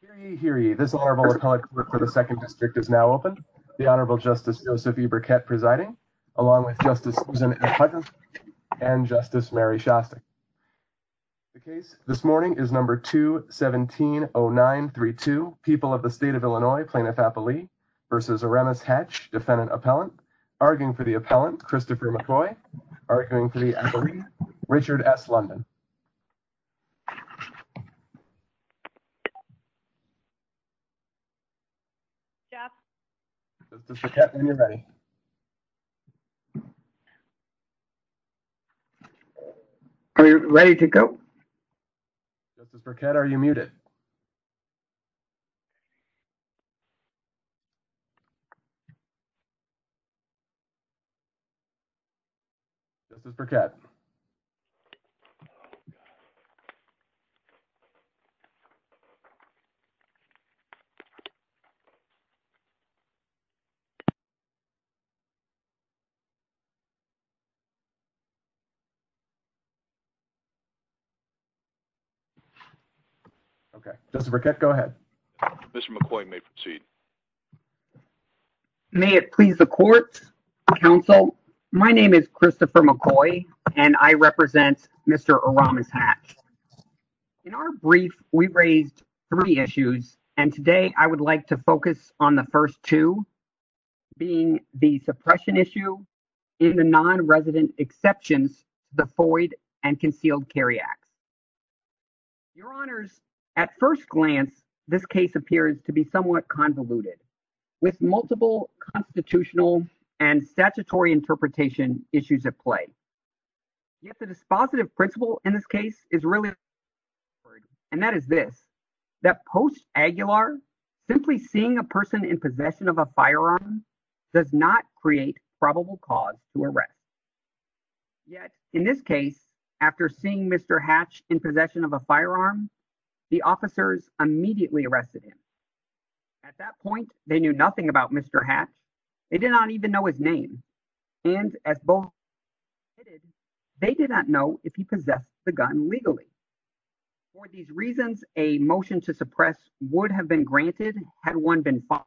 for the second district is now open. The Honorable Justice Joseph E. Burkett presiding, along with Justice Susan S. Hutchinson and Justice Mary Shostak. The case this morning is number 2-170932, People of the State of Illinois, Plaintiff-Appellee v. Aremis Hatch, Defendant-Appellant. Arguing for the appellant, Christopher McCoy. Arguing for the attorney, Richard S. London. Are you ready to go? Justice Burkett, are you muted? Justice Burkett? Okay, Justice Burkett, go ahead. Mr. McCoy, you may proceed. May it please the court, counsel, my name is Christopher McCoy, and I represent Mr. Aremis Hatch. In our brief, we raised three issues, and today I would like to focus on the first two, being the suppression issue in the non-resident exception, the Foyd and multiple constitutional and statutory interpretation issues at play. Yet the dispositive principle in this case is really, and that is this, that post-Aguilar, simply seeing a person in possession of a firearm does not create probable cause to arrest. Yet, in this case, after seeing Mr. Hatch in possession of a firearm, the officers immediately arrested him. At that point, they knew nothing about Mr. Hatch. They did not even know his name, and as both admitted, they did not know if he possessed the gun legally. For these reasons, a motion to suppress would have been granted had one been filed,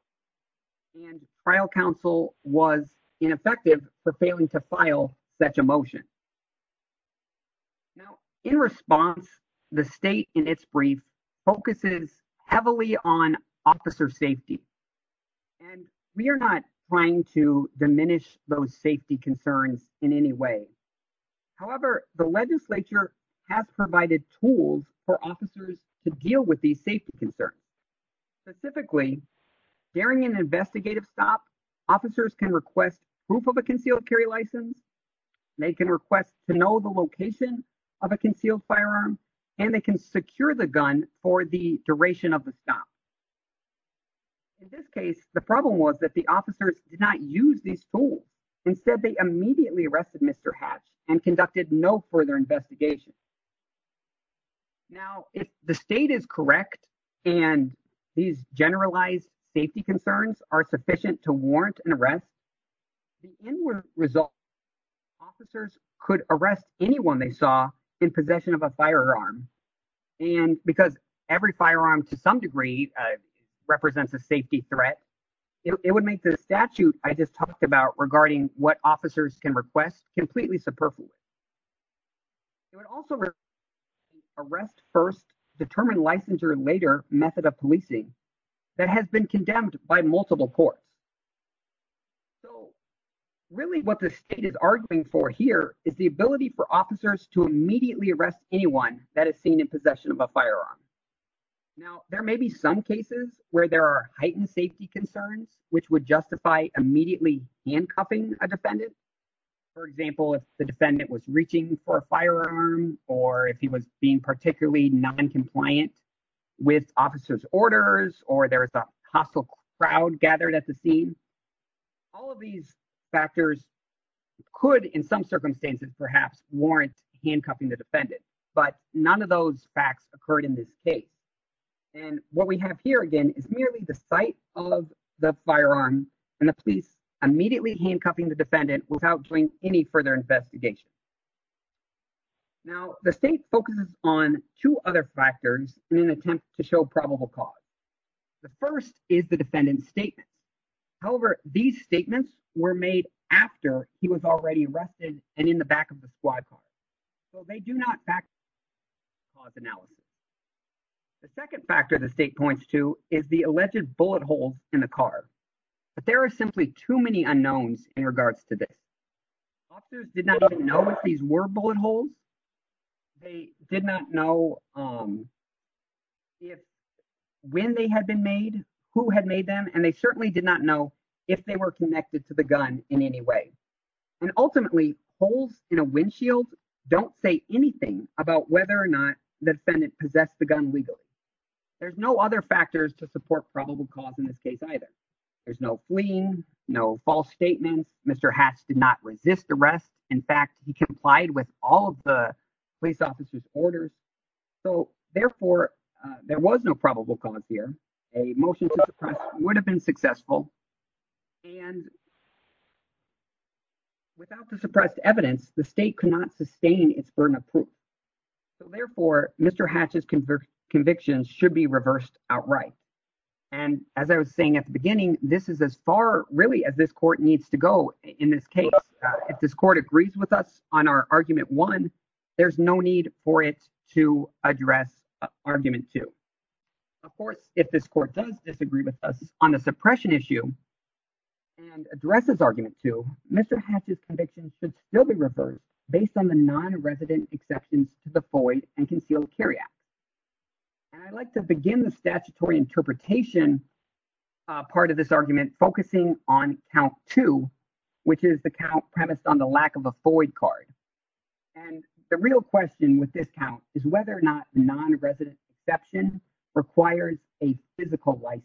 and trial counsel was ineffective for failing to file such a motion. Now, in response, the state in its brief focuses heavily on officer safety, and we are not trying to diminish those safety concerns in any way. However, the legislature has provided tools for officers to deal with these safety concerns. Specifically, during an investigative stop, officers can request proof of a concealed carry license, they can request to know the location of a concealed firearm, and they can secure the gun for the duration of the stop. In this case, the problem was that the officers did not use these tools. Instead, they immediately arrested Mr. Hatch and conducted no further investigation. Now, if the state is correct, and these generalized safety concerns are sufficient to warrant an arrest, the end result, officers could arrest anyone they saw in possession of firearms, and because every firearm to some degree represents a safety threat, it would make the statute I just talked about regarding what officers can request completely subversive. It would also arrest first, determine licensure later method of policing that has been condemned by multiple courts. So, really what the state is arguing for here is the ability for officers to arrest anyone that has been in possession of a firearm. Now, there may be some cases where there are heightened safety concerns, which would justify immediately handcuffing a defendant. For example, if the defendant was reaching for a firearm, or if he was being particularly non-compliant with officer's orders, or there's a hostile crowd gathered at the scene, all of these factors could in some circumstances perhaps warrant handcuffing the defendant. But none of those facts occurred in this case. And what we have here again is merely the sight of the firearm, and the police immediately handcuffing the defendant without doing any further investigation. Now, the state focuses on two other factors in an attempt to show probable cause. The first is the defendant's statement. However, these statements were made after he was already arrested and in the back of the squad car. So, they do not back the cause analogy. The second factor the state points to is the alleged bullet holes in the car. But there are simply too many unknowns in regards to this. Officers did not even know if these were bullet holes. They did not know when they had been made, who had made them, and they certainly did not know if they were connected to the gun in any way. And ultimately, holes in a windshield don't say anything about whether or not the defendant possessed the gun legally. There's no other factors to support probable cause in this case either. There's no fleeing, no false statements. Mr. Hatch did not resist arrest. In fact, he complied with all of the police officer's orders. So, therefore, there was no probable cause here. A motion to suppress would have been successful. And without the suppressed evidence, the state could not sustain its burden of proof. So, therefore, Mr. Hatch's convictions should be reversed outright. And as I was saying at the beginning, this is as far, really, as this court needs to go in this case. If this court agrees with us on our Argument 1, there's no need for it to address Argument 2. Of course, if this court does disagree with us on the suppression issue and addresses Argument 2, Mr. Hatch's convictions should still be reversed based on the non-resident exceptions to the FOIA and concealed carryout. And I'd like to begin the statutory interpretation part of this argument focusing on Count 2, which is the count premised on the lack of a FOIA card. And the real question with this count is whether or not the non-resident exception requires a physical license.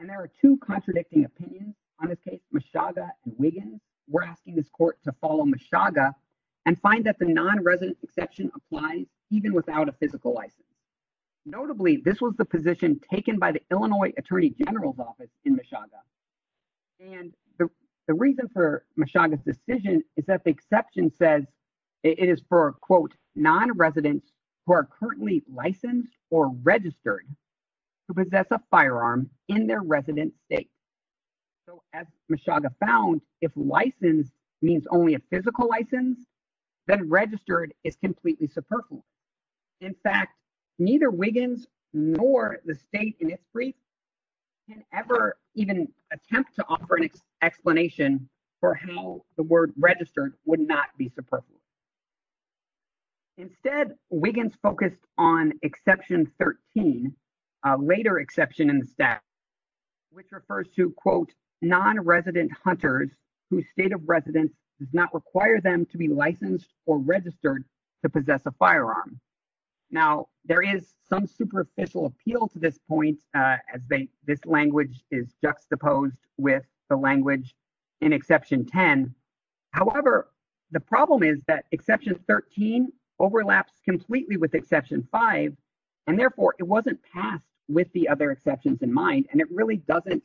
And there are two contradicting opinions on this case, Meshaga and Wiggins. We're asking this court to follow Meshaga and find that the non-resident exception applies even without a physical license. Notably, this was the position taken by the Meshaga. And the reason for Meshaga's decision is that the exception says it is for, quote, non-residents who are currently licensed or registered to possess a firearm in their resident state. So as Meshaga found, if licensed means only a physical license, then registered is completely superfluous. In fact, neither Wiggins nor the state in its brief can ever even attempt to offer an explanation for how the word registered would not be superfluous. Instead, Wiggins focused on exception 13, a later exception in the statute, which refers to, quote, non-resident hunters whose state of residence does not require them to be licensed or registered to possess a firearm. Now, there is some superficial appeal to this point as this language is juxtaposed with the language in exception 10. However, the problem is that exception 13 overlaps completely with exception 5. And therefore, it wasn't passed with the other exceptions in mind. And it really doesn't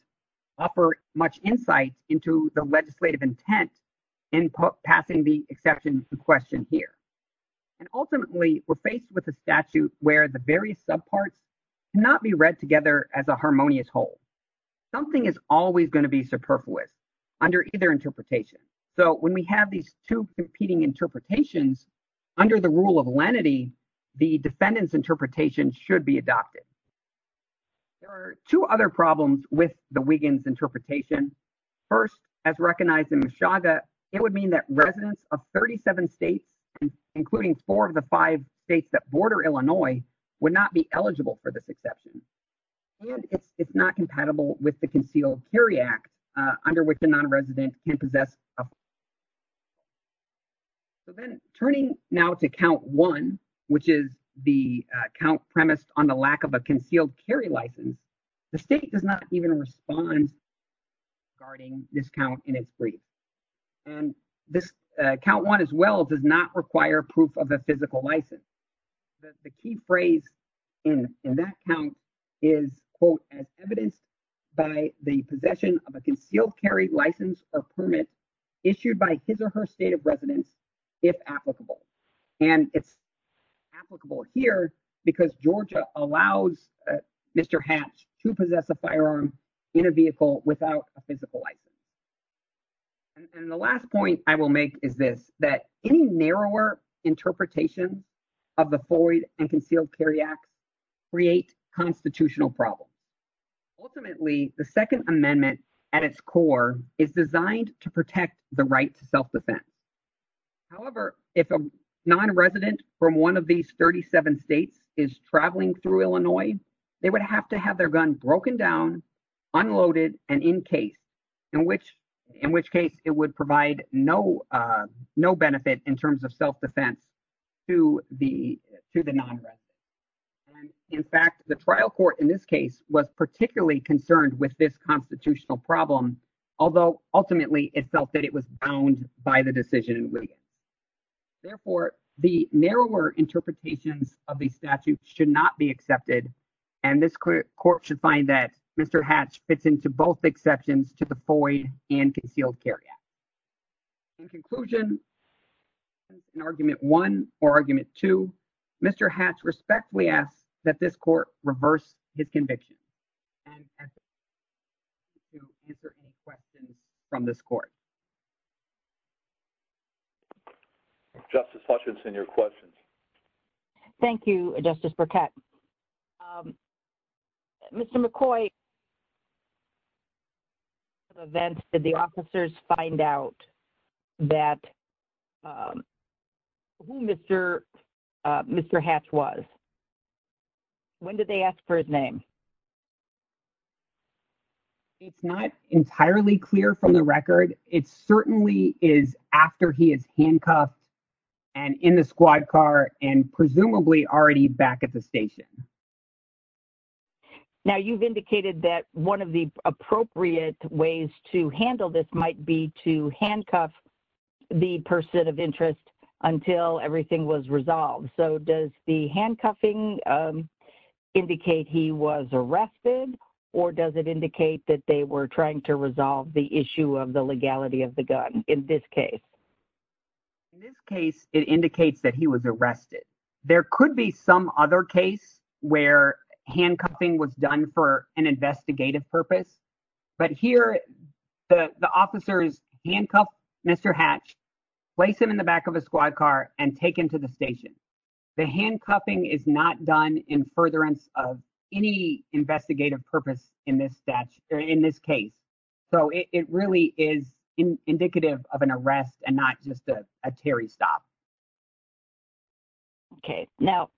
offer much insight into the legislative intent in passing the exception question here. And ultimately, we're faced with a statute where the various subparts cannot be read together as a harmonious whole. Something is always going to be superfluous under either interpretation. So when we have these two competing interpretations, under the rule of lenity, the defendant's interpretation should be adopted. There are two other problems with the Wiggins interpretation. First, as recognized in Meshaga, it would mean that residents of 37 states, including four of the five states that border Illinois, would not be eligible for this exception. And it's not compatible with the Concealed Carry Act under which a non-resident can possess a firearm. So then turning now to count 1, which is the count premise on the lack of a concealed carry license, the state does not even respond regarding this count in its brief. And this count 1 as well does not require proof of a physical license. The key phrase in that count is, quote, as evidence by the possession of a concealed carry license or permit issued by his or her state of residence, if applicable. And it's applicable here because Georgia allows Mr. Hatch to possess a firearm in a vehicle without a interpretation of the Floyd and Concealed Carry Act create constitutional problems. Ultimately, the Second Amendment at its core is designed to protect the right to self-defense. However, if a non-resident from one of these 37 states is traveling through Illinois, they would have to have their gun broken down, unloaded, and encased, in which case it would provide no benefit in terms of self-defense to the non-resident. In fact, the trial court in this case was particularly concerned with this constitutional problem, although ultimately it felt that it was bound by the decision. Therefore, the narrower interpretation of the statute should not be accepted. And this court should find that Mr. Hatch fits into both exceptions to the Floyd and Concealed Carry Act. In conclusion, in Argument 1 or Argument 2, Mr. Hatch respectfully asks that this court reverse his conviction and answer any questions from this court. Justice Hutchinson, your question. Thank you, Justice Burkett. Mr. McCoy, did the officers find out who Mr. Hatch was? When did they ask for his name? It's not entirely clear from the record. It certainly is after he is handcuffed and in the station. Now, you've indicated that one of the appropriate ways to handle this might be to handcuff the person of interest until everything was resolved. So does the handcuffing indicate he was arrested, or does it indicate that they were trying to resolve the issue of the legality of the gun in this case? In this case, it indicates that he was arrested. There could be some other case where handcuffing was done for an investigative purpose. But here, the officers handcuff Mr. Hatch, place him in the back of a squad car, and take him to the station. The handcuffing is not done in furtherance of any investigative purpose in this case. So it really is indicative of an arrest and not just a carry stop. Okay. Now,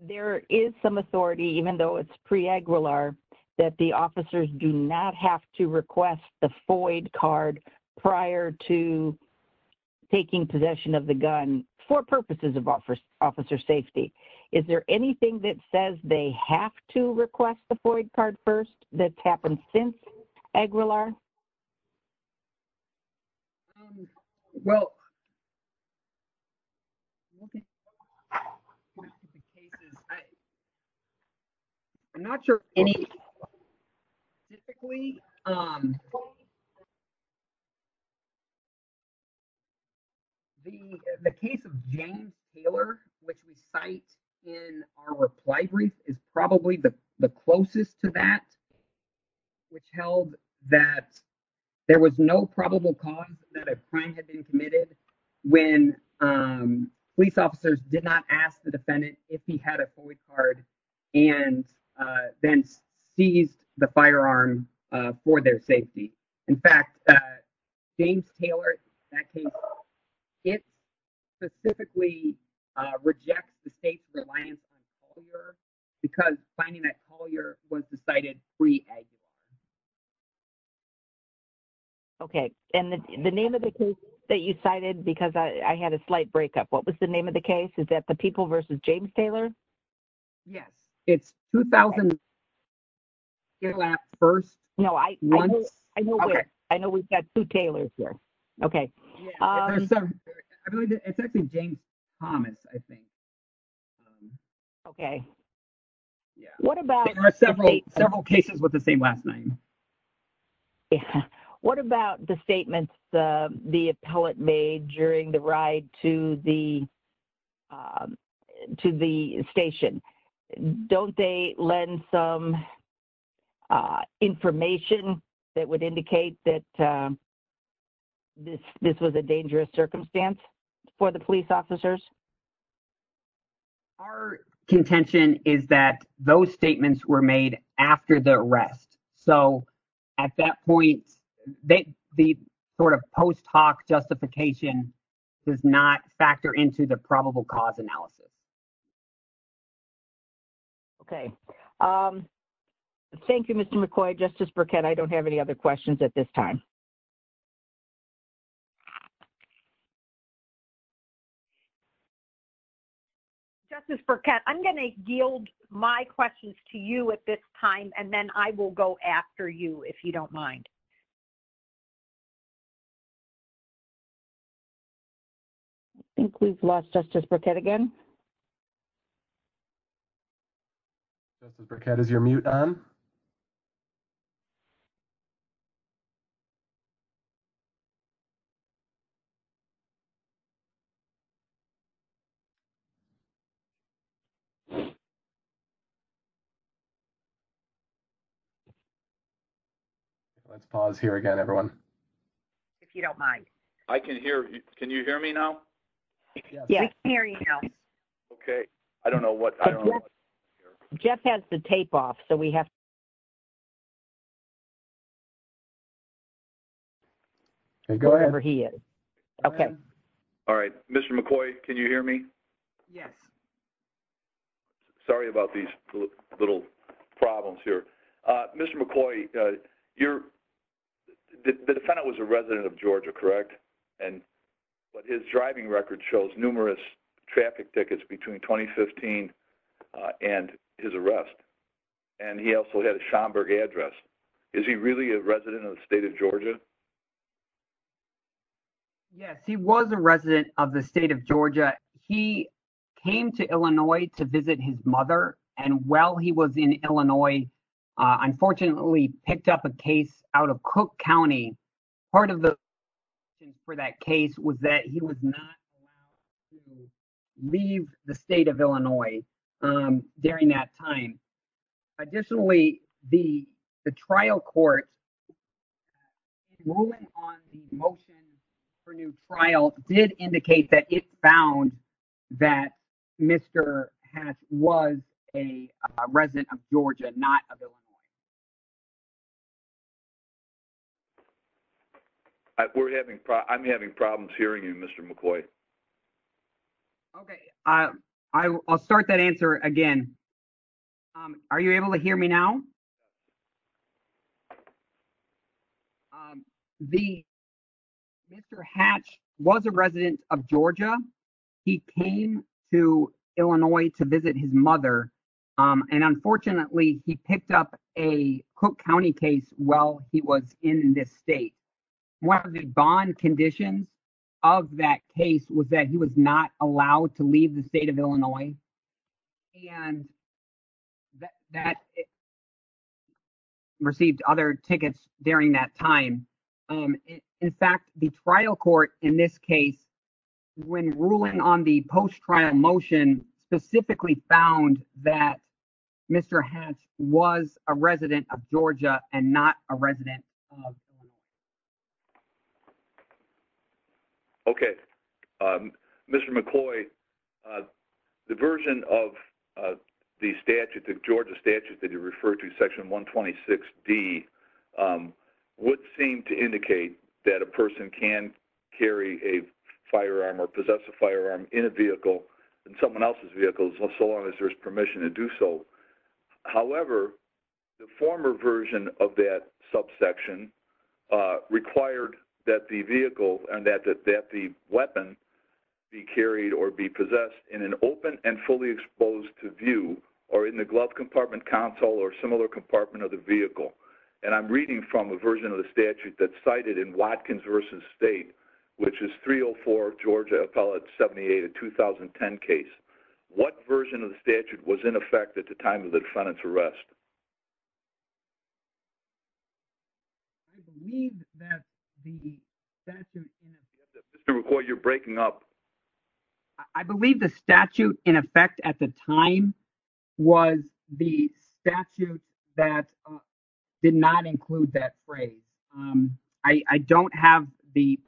there is some authority, even though it's pre-AGUILAR, that the officers do not have to request the FOID card prior to taking possession of the gun for purposes of officer safety. Is there anything that says they have to request the FOID card first that's happened since AGUILAR? Well, I'm not sure anything specifically. The case of James Taylor, which we cite in our closest to that, it's held that there was no probable cause that a crime had been committed when police officers did not ask the defendant if he had a FOID card and then seized the firearm for their safety. In fact, James Taylor, that case, it specifically rejects the case that was cited pre-AGUILAR. Okay. And the name of the case that you cited, because I had a slight breakup, what was the name of the case? Is that the People v. James Taylor? Yes. It's 2001. No, I know we've got two Taylors here. Okay. It's actually James Thomas, I think. Okay. There are several cases with the same last name. What about the statements the appellate made during the ride to the station? Don't they lend some information that would indicate that this was a dangerous circumstance for the police officers? Our contention is that those statements were made after the arrest. So, at that point, the sort of post hoc justification does not factor into the probable cause analysis. Okay. Thank you, Mr. McCoy. Justice Burkett, I don't have any other questions at this time. Justice Burkett, I'm going to yield my questions to you at this time, and then I will go after you, if you don't mind. I think we've lost Justice Burkett again. Justice Burkett, is your mute on? Let's pause here again, everyone. If you don't mind. I can hear. Can you hear me now? Yes, we can hear you now. Okay. I don't know what... Jeff has the tape off, so we have to... Go ahead. ...go wherever he is. Okay. All right. Mr. McCoy, can you hear me? Yes. Sorry about these little problems here. Mr. McCoy, the defendant was a resident of Georgia, and his driving record shows numerous traffic tickets between 2015 and his arrest, and he also had a Schomburg address. Is he really a resident of the state of Georgia? Yes, he was a resident of the state of Georgia. He came to Illinois to visit his mother, and while he was in Illinois, unfortunately, picked up a case out of Cook County. Part of the reason for that case was that he was not allowed to leave the state of Illinois during that time. Additionally, the trial court ruling on the motion for new trial did indicate that it found that Mr. Hatch was a resident of Georgia, not of Illinois. I'm having problems hearing you, Mr. McCoy. Okay. I'll start that answer again. Are you able to hear me now? Mr. Hatch was a resident of Georgia. He came to Illinois to visit his mother, and unfortunately, he picked up a Cook County case while he was in this state. One of the bond conditions of that case was that he was not allowed to leave the state of Illinois, and that received other tickets during that time. In fact, the trial court in this case, when ruling on the post-trial motion, specifically found that Mr. Hatch was a resident of Georgia and not a resident of Illinois. Okay. Mr. McCoy, the version of the Georgia statute that you referred to, Section 126D, would seem to indicate that a person can carry a firearm or possess a firearm in a vehicle, in someone else's vehicle, so long as there's permission to do so. However, the former version of that subsection required that the vehicle and that the weapon be carried or be possessed in an open and fully exposed to view or in the glove compartment console or similar compartment of the vehicle. And I'm reading from a version of the statute that's cited in Watkins v. State, which is 304 Georgia Appellate 78, a 2010 case. What version of the statute was in effect at the time of the defendant's arrest? I believe that the statute... Mr. McCoy, you're breaking up. I believe the statute in effect at the time was the statute that did not include that phrase. I don't have the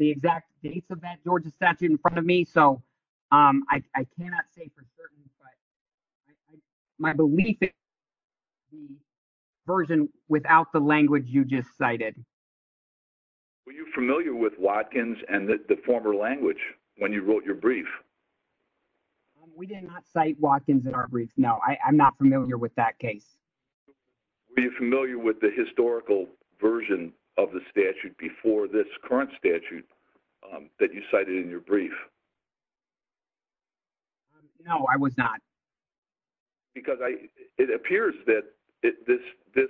exact date of that Georgia statute in front of me, so I cannot say for certain, but my belief is the version without the language you just cited. Were you familiar with Watkins and the former language when you wrote your brief? We did not cite Watkins in our brief, no. I'm not familiar with that case. Were you familiar with the historical version of the statute before this current statute that you cited in your brief? No, I was not. Because it appears that this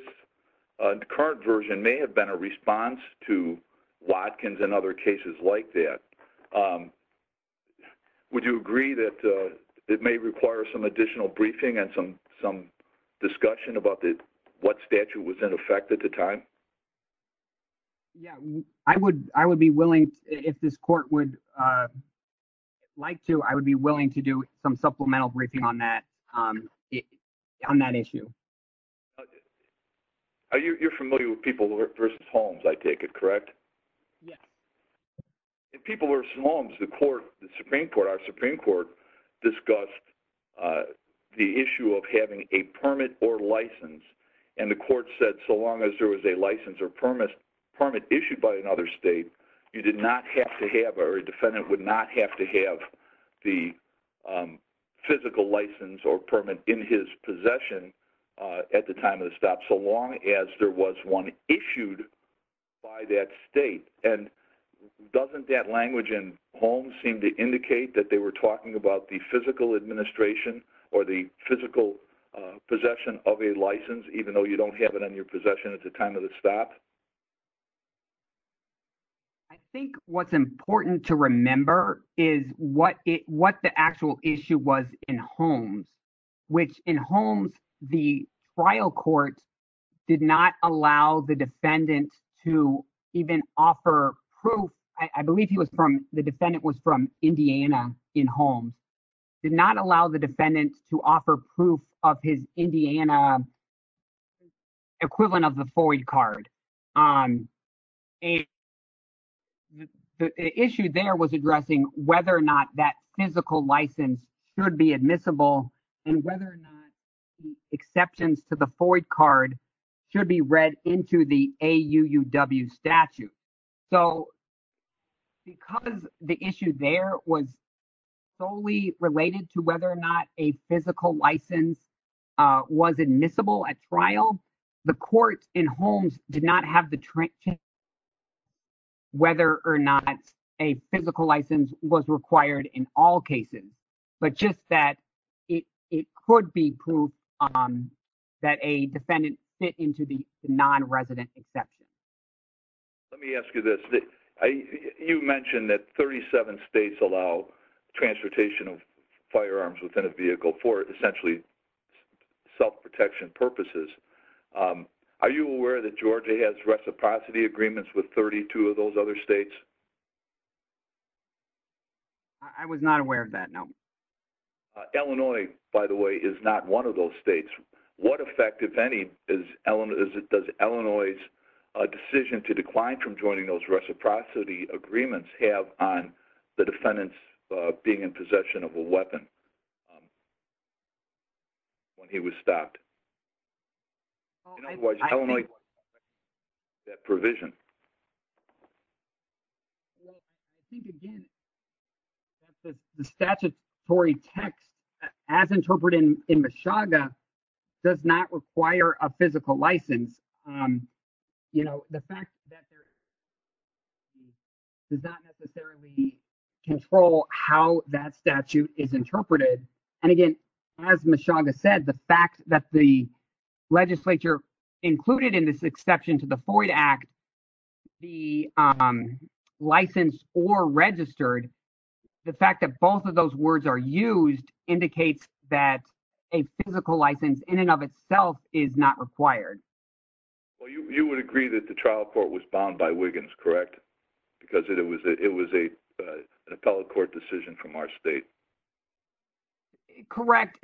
current version may have been a response to Watkins and other cases like that. Would you agree that it may require some additional briefing and some discussion about what statute was in effect at the time? Yeah, I would be willing, if this court would like to, I would be willing to do some supplemental briefing on that issue. You're familiar with people versus homes, I take it, correct? Yes. If people versus homes, the Supreme Court discussed the issue of having a permit or license, and the court said so long as there was a license or permit issued by another state, you did not have to have, or a defendant would not have to have the physical license or permit in his possession at the time of the stop, so long as there was one issued by that state. And doesn't that language in homes seem to indicate that they were talking about the physical administration or the physical possession of a license, even though you don't have it in your possession at the time of the stop? I think what's important to remember is what the actual issue was in homes, which in homes, the trial court did not allow the defendant to even offer proof, I believe he was from, the defendant was from Indiana in homes, did not allow the defendant to offer proof of his Indiana license. Equivalent of the FOIA card. The issue there was addressing whether or not that physical license should be admissible, and whether or not exceptions to the FOIA card should be read into the AUUW statute. So because the issue there was solely related to whether or not a physical license was admissible at trial, the court in homes did not have the chance whether or not a physical license was required in all cases. But just that it could be proof that a defendant fit into the non-resident exception. Let me ask you this. You mentioned that 37 states allow transportation of firearms within a vehicle for essentially self-protection purposes. Are you aware that Georgia has reciprocity agreements with 32 of those other states? I was not aware of that, no. Illinois, by the way, is not one of those states. What effect, if any, does Illinois' decision to decline from joining those reciprocity agreements have on the defendants being in possession of a weapon? When he was stopped. Otherwise, Illinois, that provision. The statutory text, as interpreted in Meshuggah, does not require a physical license. The fact that there is a physical license does not necessarily control how that statute is interpreted. And again, as Meshuggah said, the fact that the legislature included in this exception to the Floyd Act the license or registered, the fact that both of those words are used indicates that a physical license in and of itself is not required. You would agree that the trial court was bound by Wiggins, correct? Because it was an appellate court decision from our state. Correct.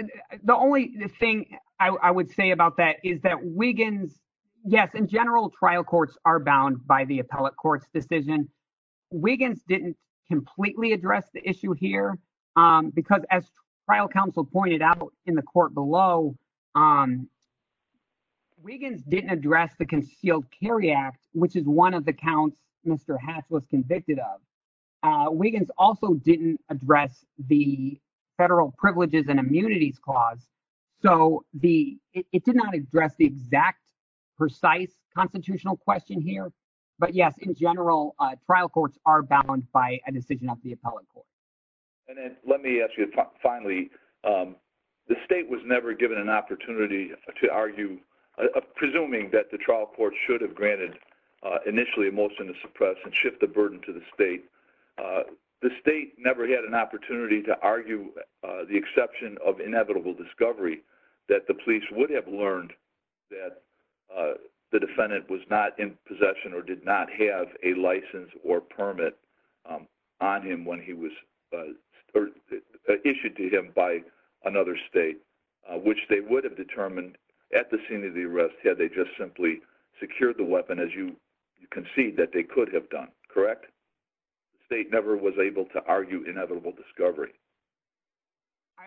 The only thing I would say about that is that Wiggins, yes, in general, trial courts are bound by the appellate court's decision. Wiggins didn't completely address the issue here because, as trial counsel pointed out in the court below, Wiggins didn't address the concealed carry act, which is one of the counts Mr. Haas was convicted of. Wiggins also didn't address the federal privileges and immunities clause. So it did not address the exact, precise constitutional question here. But yes, in general, trial courts are bound by a decision of the appellate court. And then let me ask you, finally, the state was never given an opportunity to argue, presuming that the trial court should have granted initially a motion to suppress and shift the The state never had an opportunity to argue the exception of inevitable discovery that the police would have learned that the defendant was not in possession or did not have a license or permit on him when he was issued to him by another state, which they would have determined at the scene of the arrest had they just simply secured the weapon, as you concede that they could have done, correct? The state never was able to argue inevitable discovery.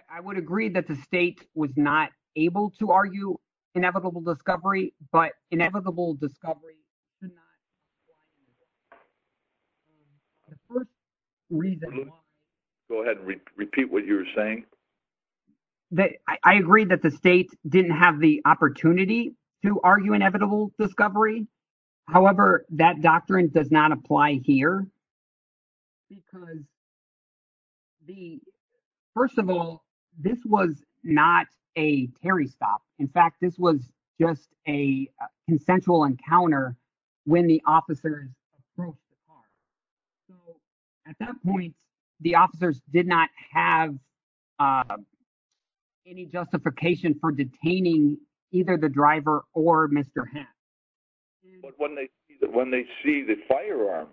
I would agree that the state was not able to argue inevitable discovery, but inevitable discovery. Go ahead and repeat what you're saying. I agree that the state didn't have the opportunity to argue inevitable discovery. However, that doctrine does not apply here. Because the first of all, this was not a carry stop. In fact, this was just a consensual encounter when the officers at that point, the officers did not have any justification for detaining either the driver or Mr. But when they see the firearm,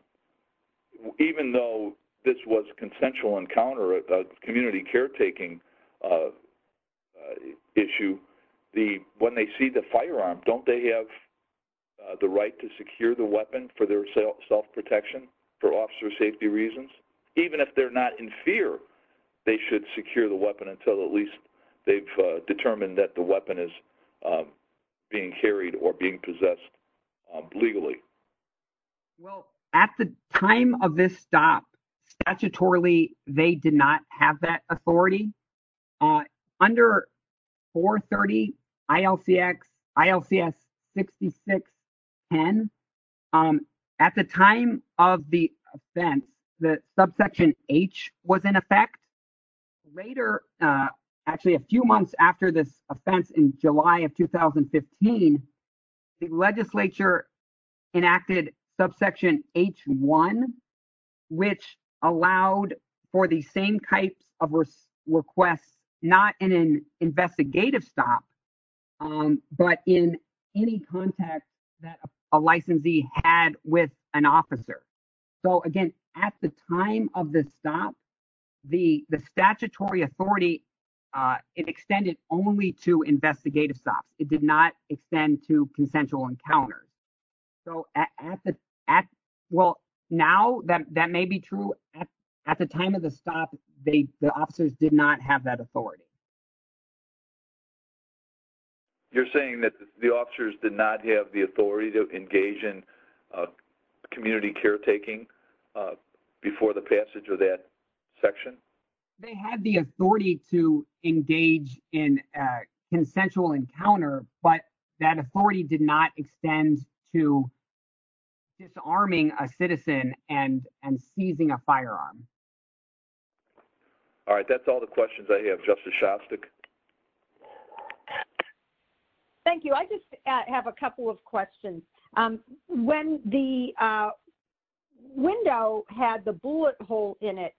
even though this was consensual encounter, a community caretaking issue, when they see the firearm, don't they have the right to secure the weapon for their self-protection for officer safety reasons? Even if they're not in fear, they should secure the weapon until at least they've possessed legally. Well, at the time of this stop, statutorily, they did not have that authority. Under 430 ILCX 6610, at the time of the event, the subsection H was in effect. Later, actually, a few months after this offense in July of 2015, the legislature enacted subsection H1, which allowed for the same type of request, not in an investigative stop, but in any context that a licensee had with an officer. So again, at the time of the stop, the statutory authority, it extended only to investigative stops. It did not extend to consensual encounters. So at the, well, now that may be true, at the time of the stop, the officers did not have that authority. You're saying that the officers did not have the authority to engage in community caretaking before the passage of that section? They had the authority to engage in a consensual encounter, but that authority did not extend to disarming a citizen and seizing a firearm. All right, that's all the questions I have. Justice Shostak. Thank you. I just have a couple of questions. When the window had the bullet hole in it,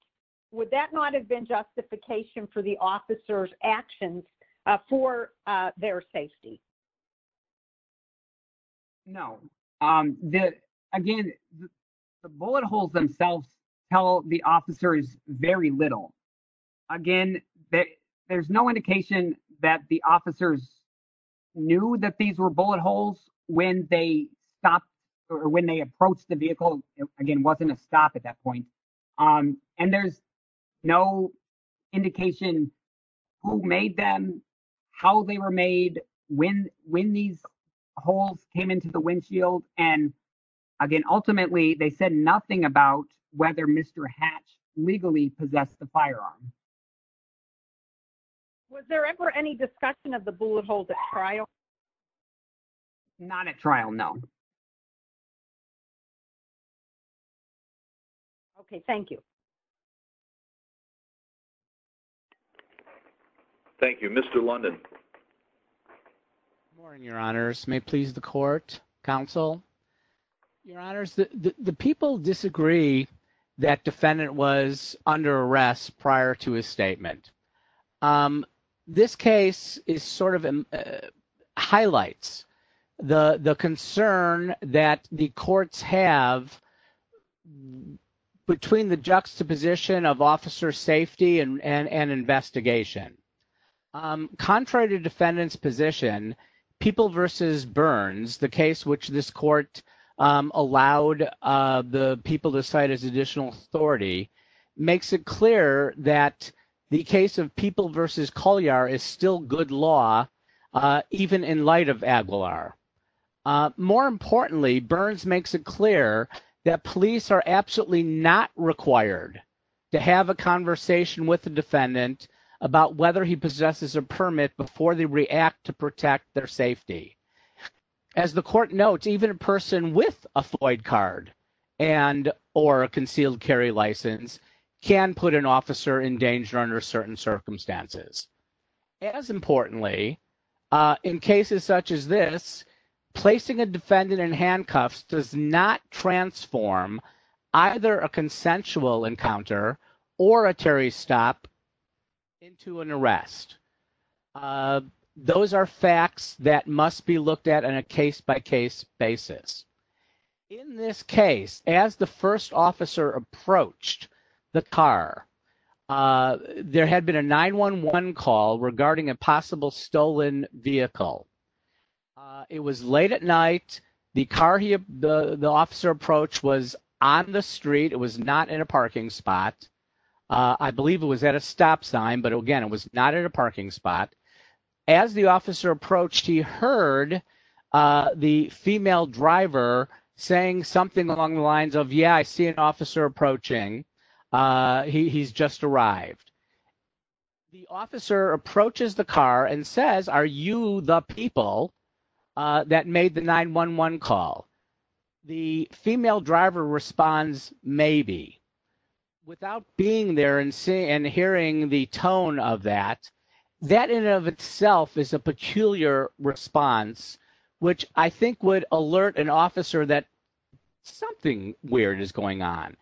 would that not have been justification for the officer's actions for their safety? No. The, again, the bullet holes themselves tell the officers very little. Again, there's no indication that the officers knew that these were bullet holes when they stopped or when they approached the vehicle. Again, it wasn't a stop at that point. And there's no indication who made them, how they were made, when these holes came into the windshield. And again, ultimately, they said nothing about whether Mr. Hatch legally possessed the firearm. Was there ever any discussion of the bullet holes at trial? Not at trial, no. Okay, thank you. Thank you. Mr. London. Good morning, your honors. May it please the court, counsel. Your honors, the people disagree that defendant was under arrest prior to his statement. This case is sort of highlights the concern that the courts have between the juxtaposition of officer safety and investigation. Contrary to defendant's position, People v. Burns, the case which this court allowed the people to cite as additional authority, makes it clear that the case of People v. Collier is still good law, even in light of Aguilar. More importantly, Burns makes it clear that police are absolutely not required to have a conversation with the defendant about whether he possesses a permit before they react to protect their safety. As the court notes, even a person with a Floyd card and or a concealed carry license can put an officer in danger under certain circumstances. As importantly, in cases such as this, placing a defendant in handcuffs does not transform either a consensual encounter or a Terry stop into an arrest. Those are facts that must be looked at on a case-by-case basis. In this case, as the first officer approached the car, there had been a 911 call regarding a possible stolen vehicle. It was late at night. The car the officer approached was on the street. It was not in a parking spot. I believe it was at a stop sign. But again, it was not in a parking spot. As the officer approached, he heard the female driver saying something along the lines of, yeah, I see an officer approaching. He's just arrived. The officer approaches the car and says, are you the people that made the 911 call? The female driver responds, maybe. Without being there and hearing the tone of that, that in and of itself is a peculiar response, which I think would alert an officer that something weird is going on.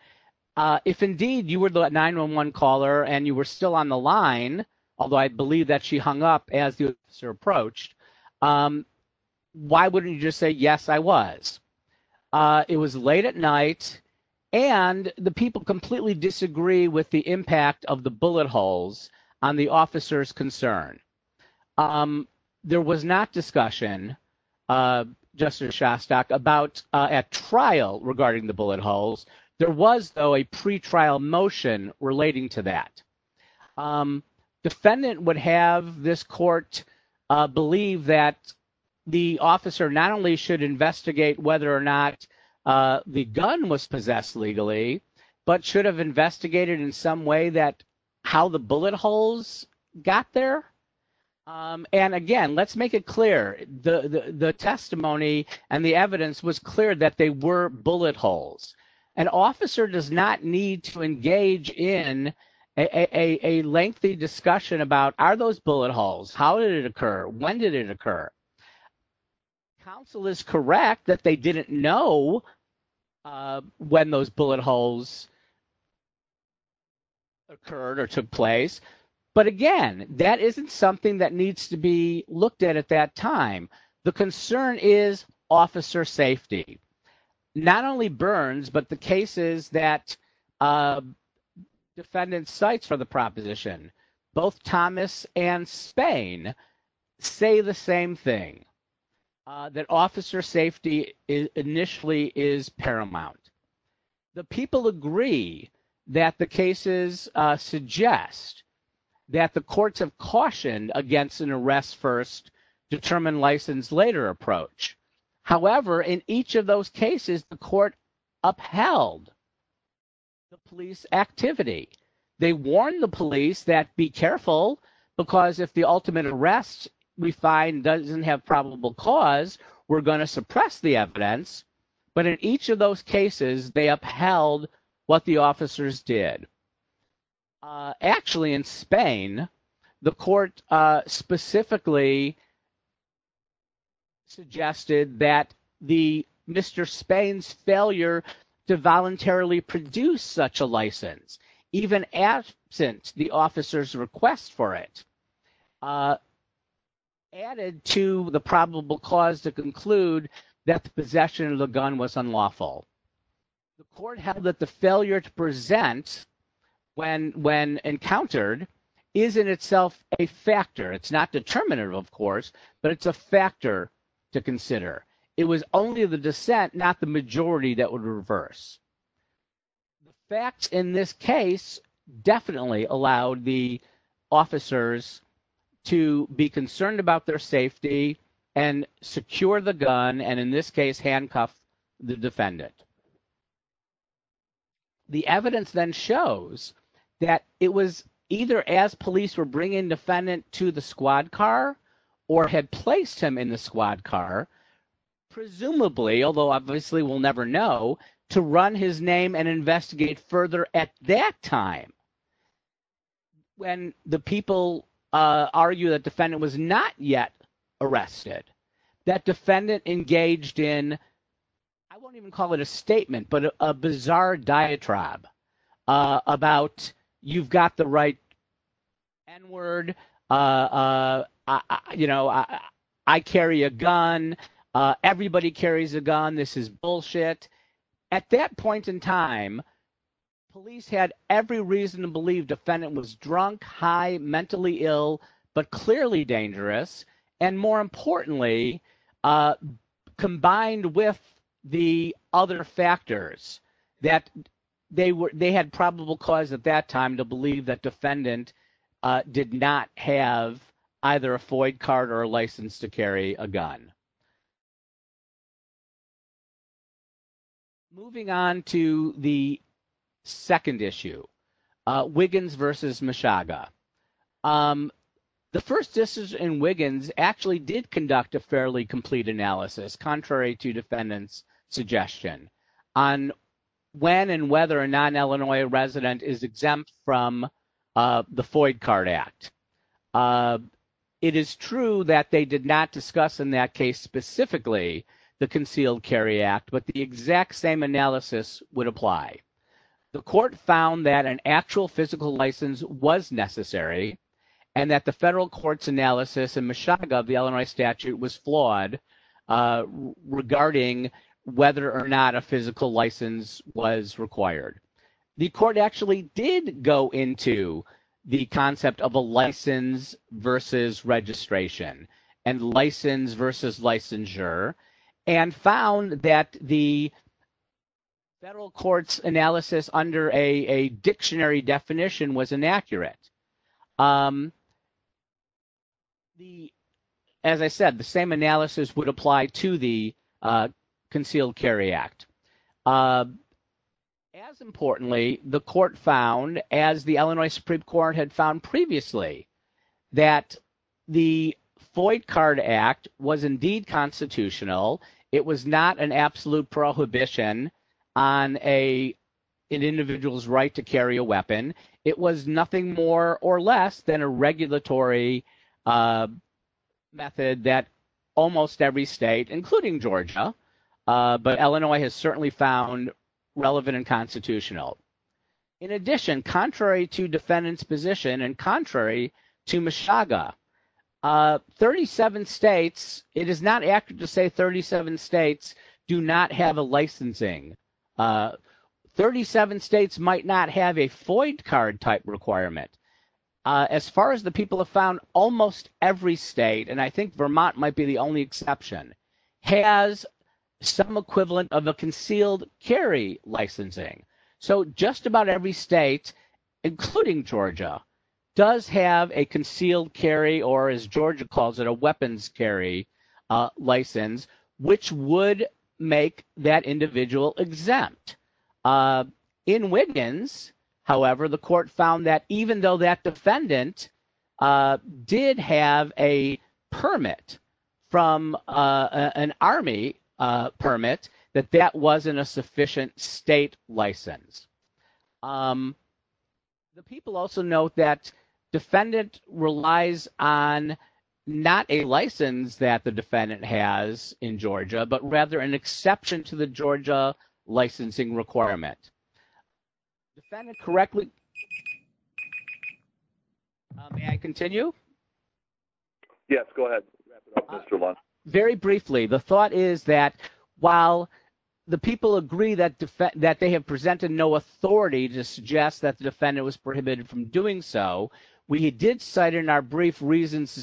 If indeed you were the 911 caller and you were still on the line, although I believe that she hung up as the officer approached, why wouldn't you just say, yes, I was? It was late at night, and the people completely disagree with the impact of the bullet holes on the officer's concern. There was not discussion, Justice Shostak, about at trial regarding the bullet holes. There was, though, a pretrial motion relating to that. Defendant would have this court believe that the officer not only should investigate whether or not the gun was possessed legally, but should have investigated in some way that how the bullet holes got there. And again, let's make it clear, the testimony and the evidence was clear that they were bullet holes. An officer does not need to engage in a lengthy discussion about, are those bullet holes? How did it occur? When did it occur? Counsel is correct that they didn't know when those bullet holes occurred or took place. But again, that isn't something that needs to be looked at at that time. The concern is officer safety. Not only Burns, but the cases that defendants cite for the proposition, both Thomas and Spain say the same thing, that officer safety initially is paramount. The people agree that the cases suggest that the courts have cautioned against an arrest first, determine license later approach. However, in each of those cases, the court upheld the police activity. They warned the police that be careful because if the ultimate arrest we find doesn't have probable cause, we're going to suppress the evidence. But in each of those cases, they upheld what the officers did. Actually, in Spain, the court specifically suggested that Mr. Spain's failure to voluntarily produce such a license, even absent the officer's request for it, added to the probable cause to conclude that the possession of the gun was unlawful. The court held that the failure to present when encountered is in itself a factor. It's not determinative, of course, but it's a factor to consider. It was only the dissent, not the majority, that would reverse. The fact in this case definitely allowed the officers to be concerned about their safety and secure the gun and in this case, handcuff the defendant. The evidence then shows that it was either as police were bringing defendant to the squad car or had placed him in the squad car, presumably, although obviously we'll never know, to run his name and investigate further at that time. But when the people argue that defendant was not yet arrested, that defendant engaged in, I won't even call it a statement, but a bizarre diatribe about you've got the right N-word, I carry a gun, everybody carries a gun, this is bullshit. At that point in time, police had every reason to believe defendant was drunk, high, mentally ill, but clearly dangerous and more importantly, combined with the other factors that they had probable cause at that time to believe that defendant did not have either a FOIA card or a license to carry a gun. Moving on to the second issue, Wiggins versus Meshuggah. The first decision in Wiggins actually did conduct a fairly complete analysis, contrary to defendant's suggestion on when and whether a non-Illinois resident is exempt from the FOIA card act. It is true that they did not discuss in that case specifically the concealed carry act, but the exact same analysis would apply. The court found that an actual physical license was necessary and that the federal court's analysis in Meshuggah, the Illinois statute was flawed regarding whether or not a physical license was required. The court actually did go into the concept of a license versus registration and license versus licensure and found that the federal court's analysis under a dictionary definition was inaccurate. As I said, the same analysis would apply to the concealed carry act. As importantly, the court found, as the Illinois Supreme Court had found previously, that the FOIA card act was indeed constitutional. It was not an absolute prohibition on an individual's right to carry a weapon. It was nothing more or less than a regulatory method that almost every state, including Georgia, but Illinois has certainly found relevant and constitutional. In addition, contrary to defendant's position and contrary to Meshuggah, 37 states, it is not accurate to say 37 states do not have a licensing. 37 states might not have a FOIA card type requirement. As far as the people have found, almost every state, and I think Vermont might be the only exception, has some equivalent of concealed carry licensing. So just about every state, including Georgia, does have a concealed carry or, as Georgia calls it, a weapons carry license, which would make that individual exempt. In Wiggins, however, the court found that even though that defendant did have a permit from an army permit, that that wasn't a sufficient state license. The people also note that defendant relies on not a license that the defendant has in Georgia, but rather an exception to the Georgia licensing requirements. The defendant correctly... May I continue? Yes, go ahead. Very briefly, the thought is that while the people agree that they have presented no authority to suggest that the defendant was prohibited from doing so, we did cite in our brief reasons to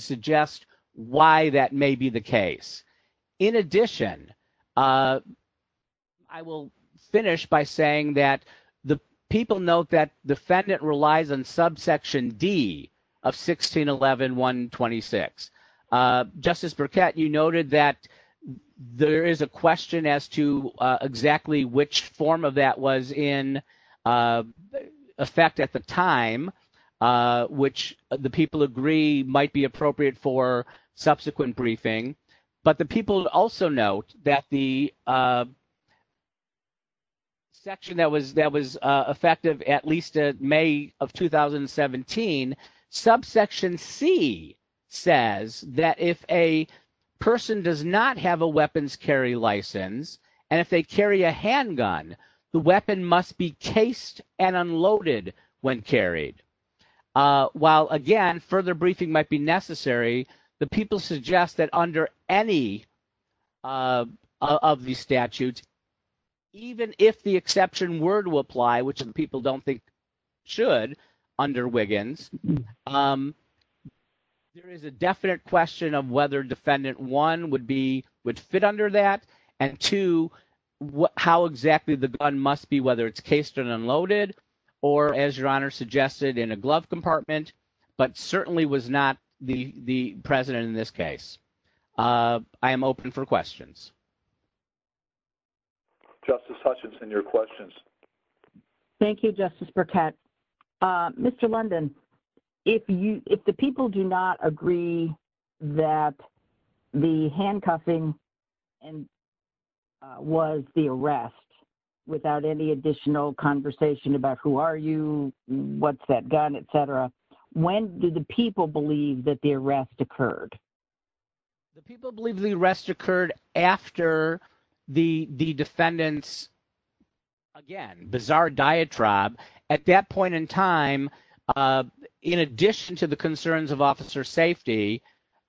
the people note that defendant relies on subsection D of 1611-126. Justice Burkett, you noted that there is a question as to exactly which form of that was in effect at the time, which the people agree might be appropriate for subsequent briefing. But the people also note that the section that was effective at least in May of 2017, subsection C says that if a person does not have a weapons carry license, and if they carry a handgun, the weapon must be cased and unloaded when carried. While again, further briefing might be necessary, the people suggest that under any of the statutes, even if the exception were to apply, which people don't think should under Wiggins, there is a definite question of whether defendant one would fit under that, and two, how exactly the gun must be, whether it's cased and unloaded, or as your honor suggested, in a glove compartment, but certainly was not the president in this case. I am open for questions. Justice Hutchinson, your questions. Thank you, Justice Burkett. Mr. London, if the people do not agree that the handcuffing and was the arrest without any additional conversation about who are you, what's that gun, et cetera, when do the people believe that the arrest occurred? The people believe the arrest occurred after the defendant's, again, bizarre diatribe. At that point in time, in addition to the concerns of officer safety,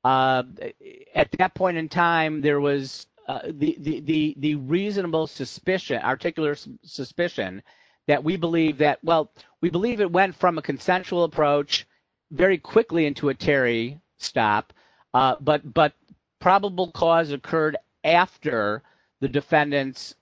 at that point in time, there was the reasonable suspicion, articulate suspicion, that we believe that, well, we believe it went from a consensual approach very quickly into a Terry stop, but probable cause occurred after the defendant's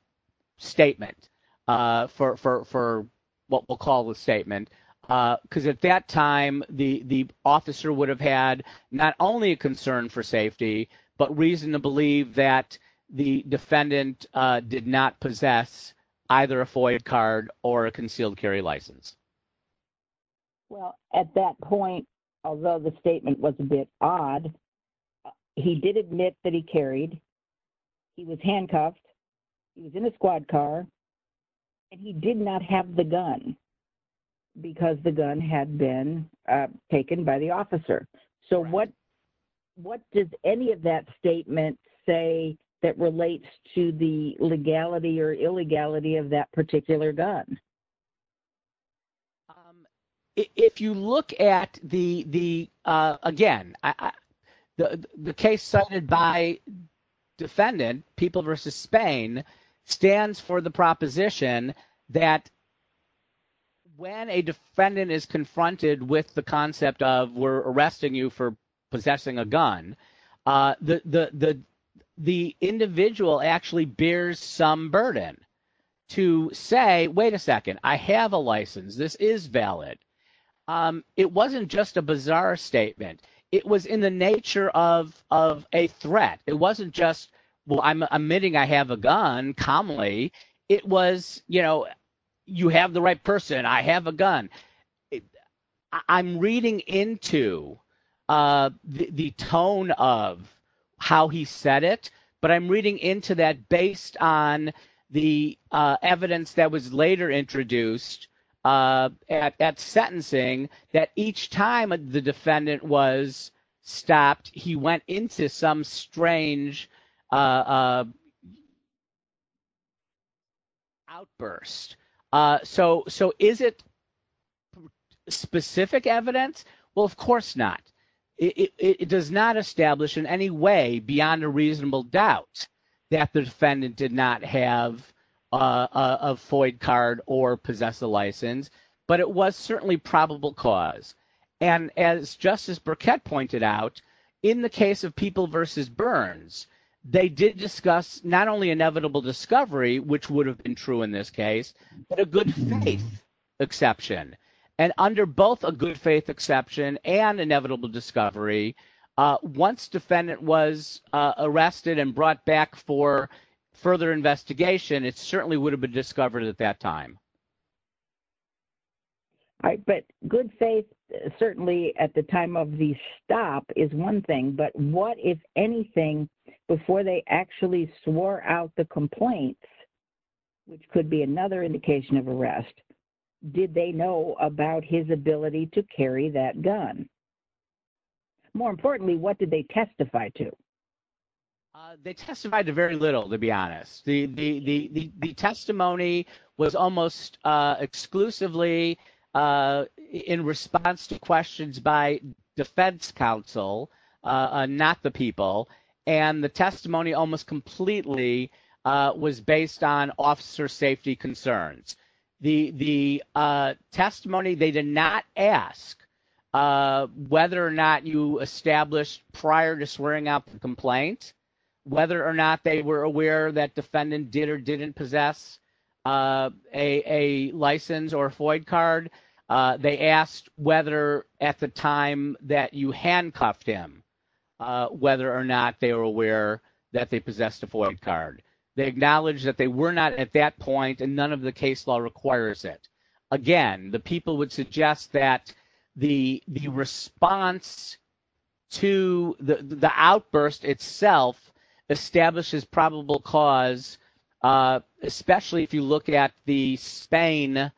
statement for what we'll call a statement, because at that time, the officer would have had not only a concern for safety, but reason to believe that the defendant did not possess either a FOIA card or a concealed carry license. Well, at that point, although the statement was a bit odd, he did admit that he because the gun had been taken by the officer. So what does any of that statement say that relates to the legality or illegality of that particular gun? If you look at the, again, the case cited by defendant, People v. Spain, stands for the When a defendant is confronted with the concept of we're arresting you for possessing a gun, the individual actually bears some burden to say, wait a second, I have a license. This is valid. It wasn't just a bizarre statement. It was in the nature of a threat. It wasn't just, I'm admitting I have a gun calmly. It was, you have the right person. I have a gun. I'm reading into the tone of how he said it, but I'm reading into that based on the evidence that was later introduced at sentencing that each time the defendant was strange outburst. So is it specific evidence? Well, of course not. It does not establish in any way beyond a reasonable doubt that the defendant did not have a FOIA card or possess a license, but it was certainly probable cause. And as Justice Burkett pointed out, in the case of People versus Burns, they did discuss not only inevitable discovery, which would have been true in this case, but a good faith exception. And under both a good faith exception and inevitable discovery, once defendant was arrested and brought back for further investigation, it certainly would have been discovered at that time. All right. But good faith certainly at the time of the stop is one thing, but what, if anything, before they actually swore out the complaint, which could be another indication of arrest, did they know about his ability to carry that gun? More importantly, what did they testify to? They testified to very little, to be honest. The testimony was almost exclusively in response to questions by defense counsel, not the people. And the testimony almost completely was based on officer safety concerns. The testimony they did not ask whether or not you swore out the complaint, whether or not they were aware that defendant did or didn't possess a license or FOIA card. They asked whether at the time that you handcuffed him, whether or not they were aware that they possessed a FOIA card. They acknowledged that they were not at that point and none of the case law requires it. Again, the people would suggest that the response to the outburst itself establishes probable cause, especially if you look at the Spain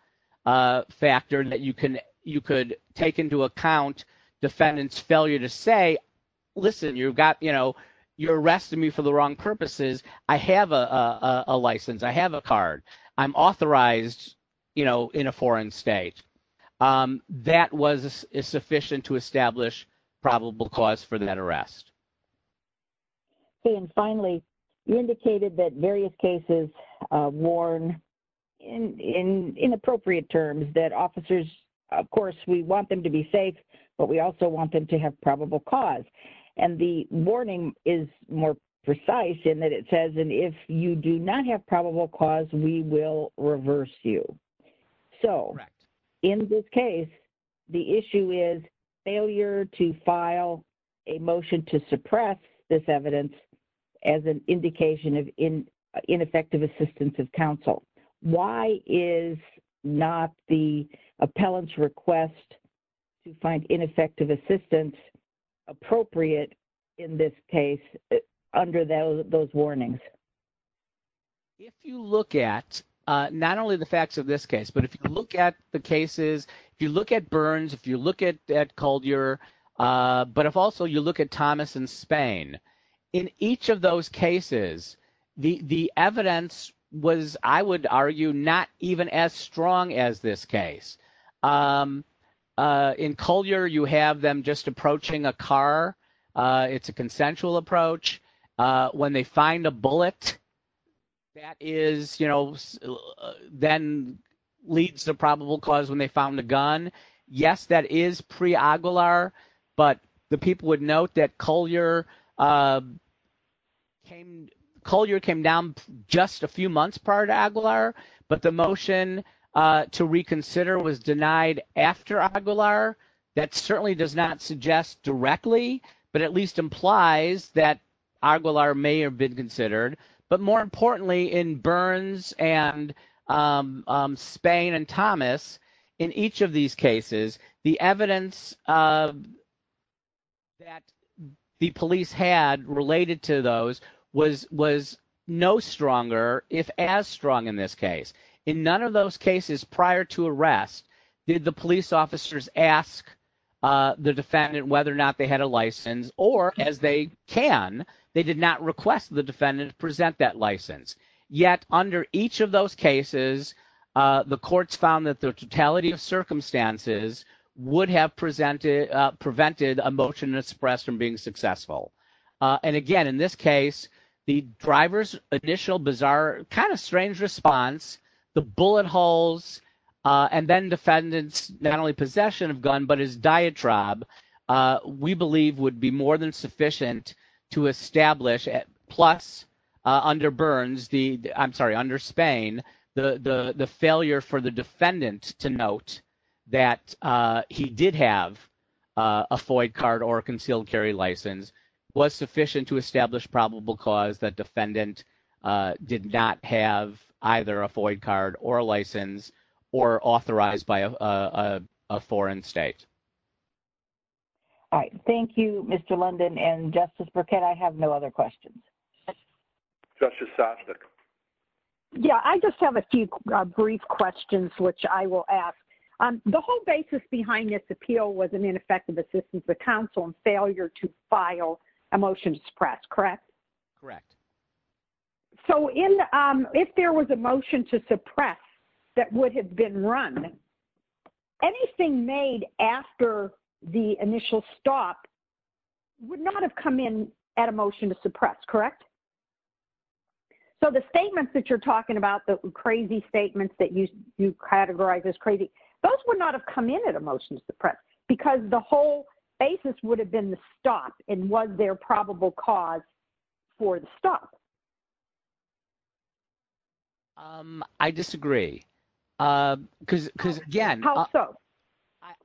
factor that you could take into account defendant's failure to say, listen, you're arresting me for the wrong purposes. I have a license. I have a card. I'm authorized in a foreign state. That was sufficient to establish probable cause for that arrest. Okay. And finally, you indicated that various cases warn in inappropriate terms that officers, of course, we want them to be safe, but we also want them to have probable cause. And the warning is more precise in that it says, and if you do not have probable cause, we will reverse you. So in this case, the issue is failure to file a motion to suppress this evidence as an indication of ineffective assistance of counsel. Why is not the appellant's request to find ineffective assistance appropriate in this case under those warnings? If you look at not only the facts of this case, but if you look at the cases, if you look at Burns, if you look at Coldyer, but if also you look at Thomas and Spain, in each of those cases, the evidence was, I would argue, not even as strong as this case. In Coldyer, you have them just approaching a car. It's a consensual approach. When they find a bullet, that is, you know, then leads to probable cause when they found the gun. Yes, that is Aguilar, but the people would note that Coldyer came down just a few months prior to Aguilar, but the motion to reconsider was denied after Aguilar. That certainly does not suggest directly, but at least implies that Aguilar may have been considered. But more importantly, in Burns and Spain and Thomas, in each of these cases, the evidence that the police had related to those was no stronger, if as strong in this case. In none of those cases prior to arrest, did the police officers ask the defendant whether or not they had a license or, as they can, they did not request the defendant present that license. Yet, under each of those cases, the courts found that the totality of circumstances would have prevented a motion to suppress from being successful. And again, in this case, the driver's initial bizarre, kind of strange response, the bullet holes, and then defendant's not only possession of gun, but his diatribe, we believe would be more than sufficient to establish, plus under Burns, I'm sorry, under Spain, the failure for the defendant to note that he did have a FOIA card or a concealed carry license was sufficient to establish probable cause that defendant did not have either a All right. Thank you, Mr. London. And Justice Burkett, I have no other questions. Justice Sosnick. Yeah, I just have a few brief questions, which I will ask. The whole basis behind this appeal was an ineffective assistance to counsel and failure to file a motion to suppress, correct? Correct. So, if there was a motion to suppress that would have been run, anything made after the initial stop would not have come in at a motion to suppress, correct? So, the statements that you're talking about, the crazy statements that you categorize as crazy, those would not have come in at a motion to suppress, because the whole basis would have been the stop and was there probable cause for the stop? I disagree. Because, again, How so?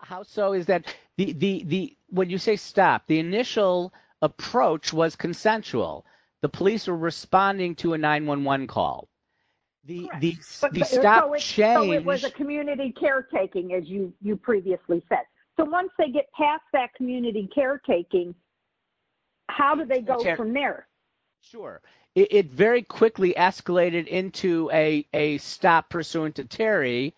How so is that the, when you say stop, the initial approach was consensual. The police were responding to a 911 call. The stop changed. So, it was a community caretaking, as you previously said. So, once they get past that community caretaking, how do they go from there? Sure. It very quickly escalated into a stop pursuant to Terry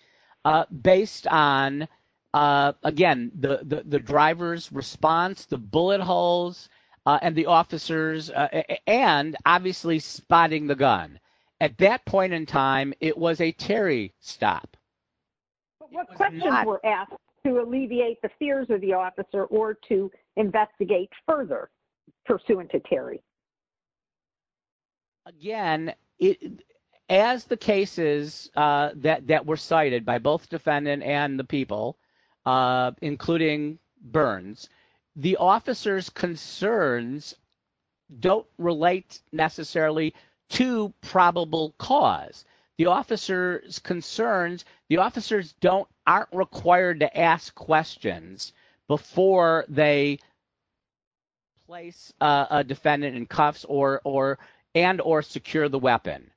based on, again, the driver's response, the bullet holes, and the officers, and obviously spotting the gun. At that point in time, it was a Terry stop. But what questions were asked to alleviate the fears of the officer or to investigate further pursuant to Terry? Again, as the cases that were cited by both defendant and the people, including Burns, the officer's concerns don't relate necessarily to probable cause. The officer's concerns, the officers aren't required to ask questions before they place a defendant in cuffs and or secure the weapon.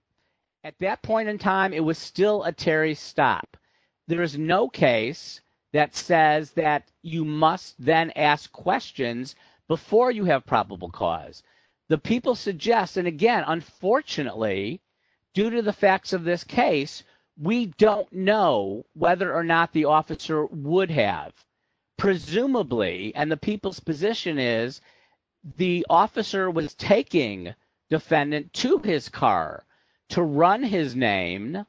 At that point in time, it was still a Terry stop. There is no case that says that you must then ask questions before you have probable cause. The people suggest, and again, unfortunately, due to the facts of this case, we don't know whether or not the officer would have. Presumably, and the people's position is the officer was taking defendant to his car to run his name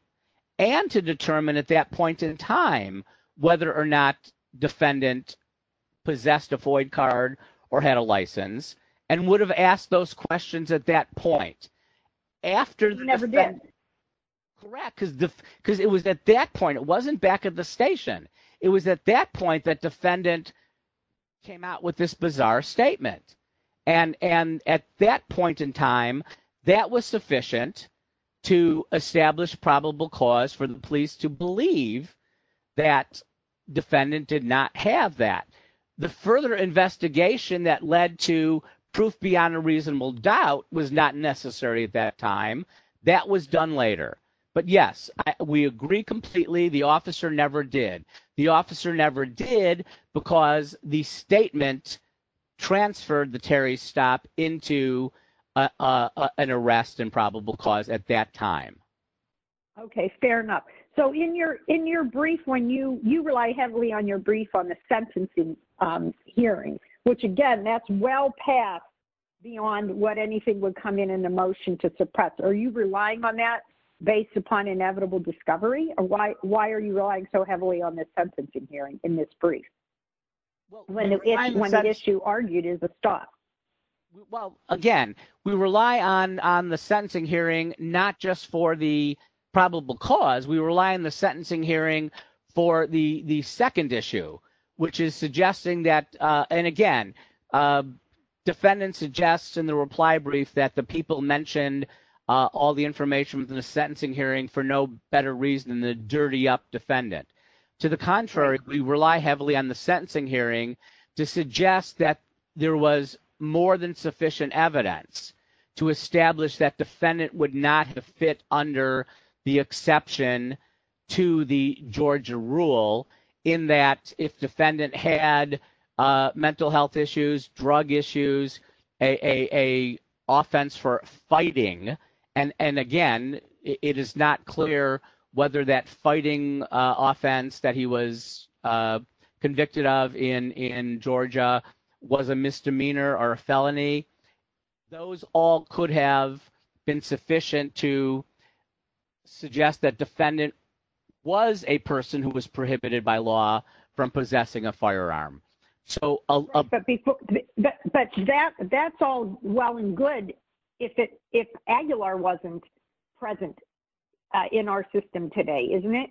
and to determine at that point in time whether or not defendant possessed a void card or had a license and would have asked those questions at that point. He never did. Correct. Because it was at that point, it wasn't back at the station. It was at that point that came out with this bizarre statement. And at that point in time, that was sufficient to establish probable cause for the police to believe that defendant did not have that. The further investigation that led to proof beyond a reasonable doubt was not necessary at that time. That was done later. But yes, we agree completely. The officer never did. The officer never did because the statement transferred the Terry's stop into an arrest and probable cause at that time. Okay, fair enough. So in your brief, you rely heavily on your brief on the sentencing hearing, which again, that's well past beyond what anything would come in in the motion to suppress. Are you relying on that based upon inevitable discovery? Or why are you relying so heavily on the sentencing hearing in this brief? When the issue argued is a stop? Well, again, we rely on the sentencing hearing, not just for the probable cause, we rely on the sentencing hearing for the second issue, which is suggesting that, and again, defendant suggests in the reply brief that the people mentioned all the information in the To the contrary, we rely heavily on the sentencing hearing to suggest that there was more than sufficient evidence to establish that defendant would not fit under the exception to the Georgia rule in that if defendant had mental health issues, drug issues, a offense for fighting. And and again, it is not clear whether that fighting offense that he was convicted of in in Georgia was a misdemeanor or a felony. Those all could have been sufficient to suggest that defendant was a person who was prohibited by law from possessing a firearm. So, but that that's all well and good. If it if Aguilar wasn't present in our system today, isn't it?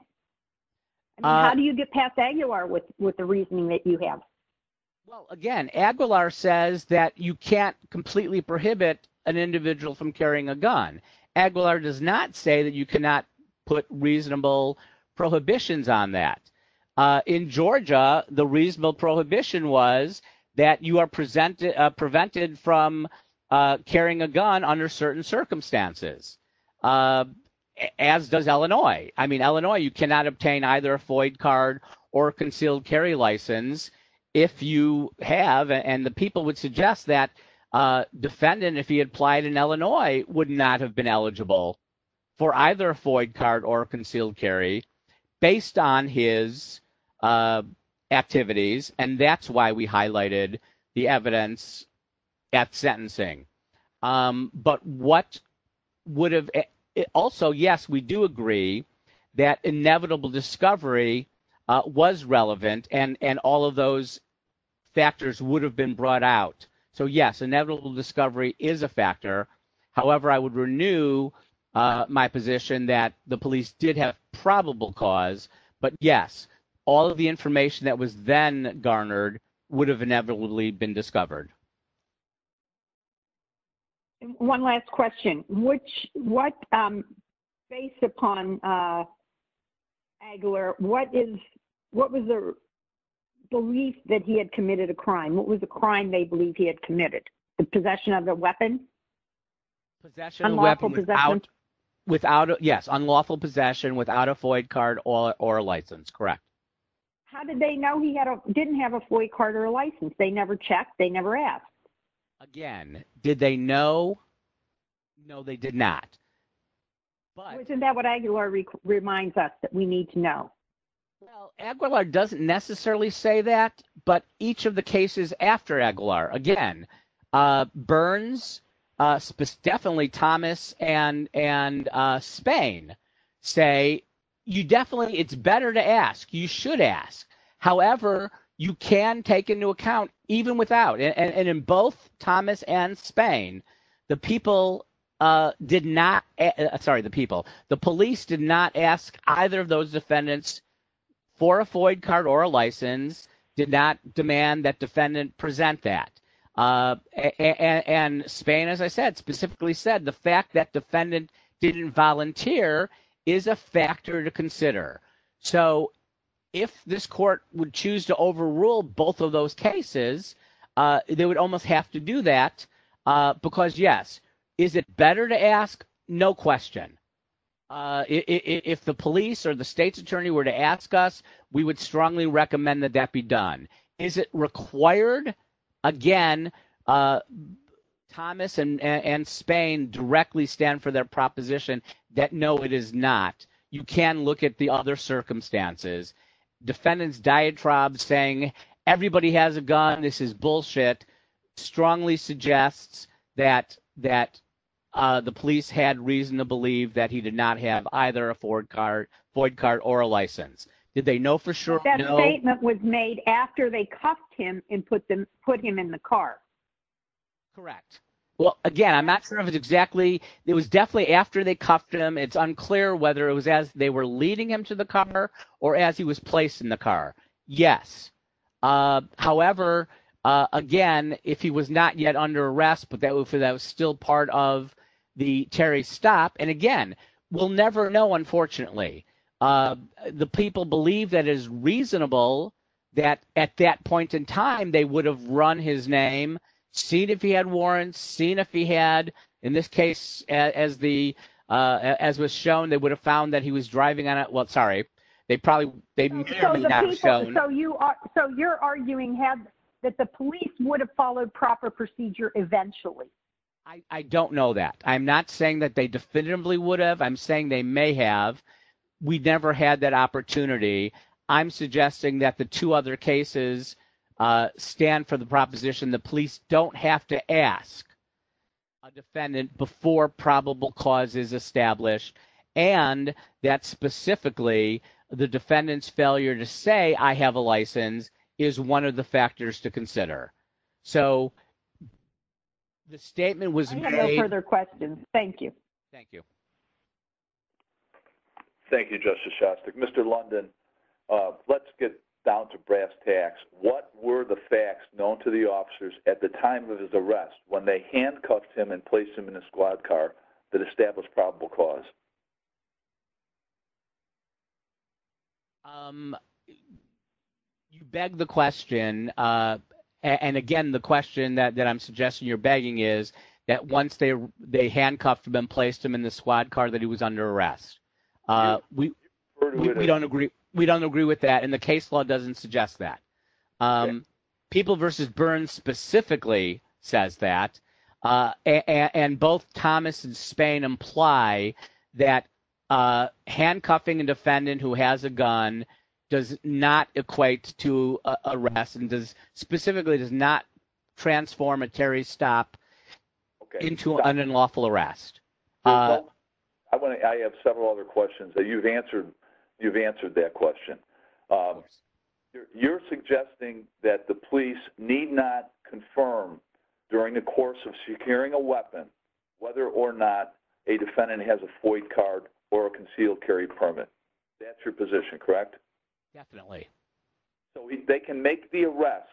How do you get past Aguilar with with the reasoning that you have? Again, Aguilar says that you can't completely prohibit an individual from carrying a gun. Aguilar does not say that you cannot put reasonable prohibitions on that. In Georgia, the reasonable prohibition was that you are presented prevented from carrying a gun under certain circumstances, as does Illinois. I mean, Illinois, you cannot obtain either a void card or concealed carry license if you have. And the people would suggest that defendant, if he applied in Illinois, would not have been eligible for either a void card or concealed carry based on his activities. And that's why we highlighted the evidence at sentencing. But what would have also, yes, we do agree that inevitable discovery was relevant and and all of those factors would have been brought out. So, yes, inevitable discovery is a factor. However, I would renew my position that the police did have probable cause. But yes, all of the information that was then garnered would have inevitably been discovered. One last question, which what based upon Aguilar, what is what was the belief that he had committed a crime? What was the crime they believe he had committed? The possession of the weapon? Without, yes, unlawful possession without a void card or a license. Correct. How did they know he didn't have a void card or a license? They never checked. They never asked. Again, did they know? No, they did not. Isn't that what Aguilar reminds us that we need to know? Aguilar doesn't necessarily say that, but each of the cases after Aguilar, again, Burns, definitely Thomas and and Spain say, you definitely it's better to ask. You should ask. However, you can take into account even without and in both Thomas and Spain, the people did not sorry, the people, the police did not ask either of those defendants for a void card or a license did not demand that defendant present that. And Spain, as I said, specifically said the fact that defendant didn't volunteer is a factor to consider. So if this court would choose to overrule both of those cases, they would almost have to do that because, yes, is it better to ask? No question. If the police or the state's attorney were to ask us, we would strongly recommend that that be done. Is it required? Again, Thomas and Spain directly stand for their proposition that no, it is not. You can look at the other circumstances. Defendants diatribes saying everybody has a gun. This is bullshit. Strongly suggest that that the police had reason to believe that he did not have either a Ford car, void card or a license. Did they know for sure that statement was made after they cuffed him and put them put him in the car? Correct. Well, again, I'm not sure of it exactly. It was definitely after they cuffed him. It's unclear whether it was as they were leading him to the car or as he was placed in the car. Yes. However, again, if he was not yet under arrest, but that was still part of the Terry stop. And again, we'll never know. Unfortunately, the people believe that is reasonable that at that point in time they would have run his name, seen if he had warrants, seen if he had, in this case, as the, as was shown, they would have found that he was driving on it. Well, sorry. They probably they'd so you're arguing have that the police would have followed proper procedure eventually. I don't know that. I'm not saying that they definitively would have. I'm saying they may have. We never had that opportunity. I'm suggesting that the two other cases stand for the proposition. The police don't have to ask a defendant before probable cause is established. And that's specifically the defendant's failure to say I have a license is one of the factors to consider. So the statement was further questions. Thank you. Thank you. Thank you, Justice Shostak. Mr. London, let's get down to brass tacks. What were the facts known to the officers at the time of his arrest when they handcuffed him and placed him in a squad car that established probable cause? Beg the question. And again, the question that I'm suggesting you're begging is that once they handcuffed him and placed him in the squad car that he was under arrest. We don't agree. We don't agree with that. And the case law doesn't suggest that people versus burns specifically says that. And both Thomas and Spain imply that handcuffing a defendant who has a gun does not equate to arrest and specifically does not transform a Terry stop into an unlawful arrest. I have several other questions that you've answered. You've answered that question. You're suggesting that the police need not confirm during the course of securing a weapon, whether or not a defendant has a void card or a concealed carry permit. That's your position, correct? Definitely. So they can make the arrest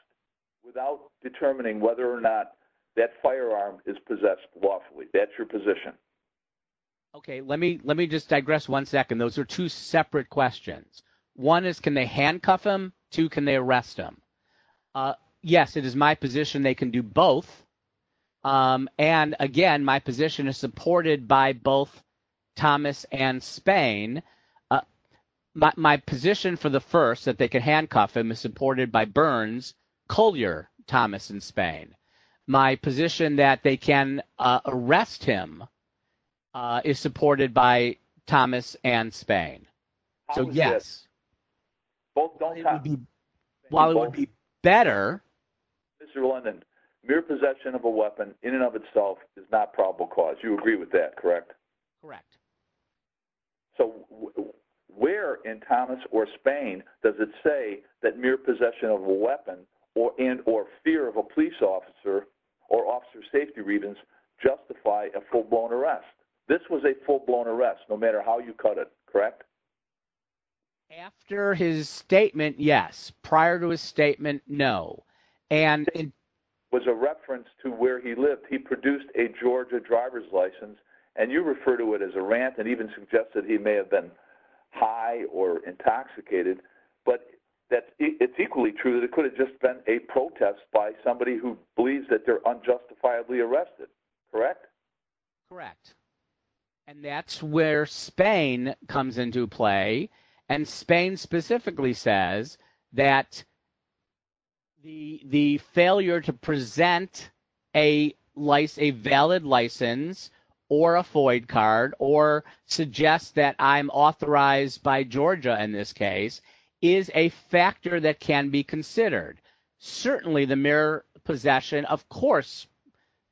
without determining whether or not that firearm is possessed lawfully. That's your position. OK, let me let me just digress one second. Those are two separate questions. One is, can they handcuff them to can they arrest them? Yes, it is my position they can do both. And again, my position is supported by both Thomas and Spain. My position for the first that they can handcuff him is supported by Burns, Collier, Thomas and Spain. My position that they can arrest him is supported by Thomas and Spain. Yes. While it would be better. Mr. London, mere possession of a weapon in and of itself is not probable cause. You agree with that, correct? Correct. So where in Thomas or Spain does it say that mere possession of a weapon or in or fear of a police officer or officer safety reasons justify a full blown arrest? This was a full blown arrest no matter how you cut it, correct? After his statement, yes. Prior to his statement, no. And it was a reference to where he lived. He produced a Georgia driver's license and you refer to it as a rant and even suggested he may have been high or intoxicated. But that it's equally true that it could have just been a protest by somebody who believes that they're unjustifiably arrested, correct? Correct. And that's where Spain comes into play. And Spain specifically says that. The the failure to present a life, a valid license or a FOIA card or suggest that I'm authorized by Georgia in this case is a factor that can be considered. Certainly the mere possession, of course,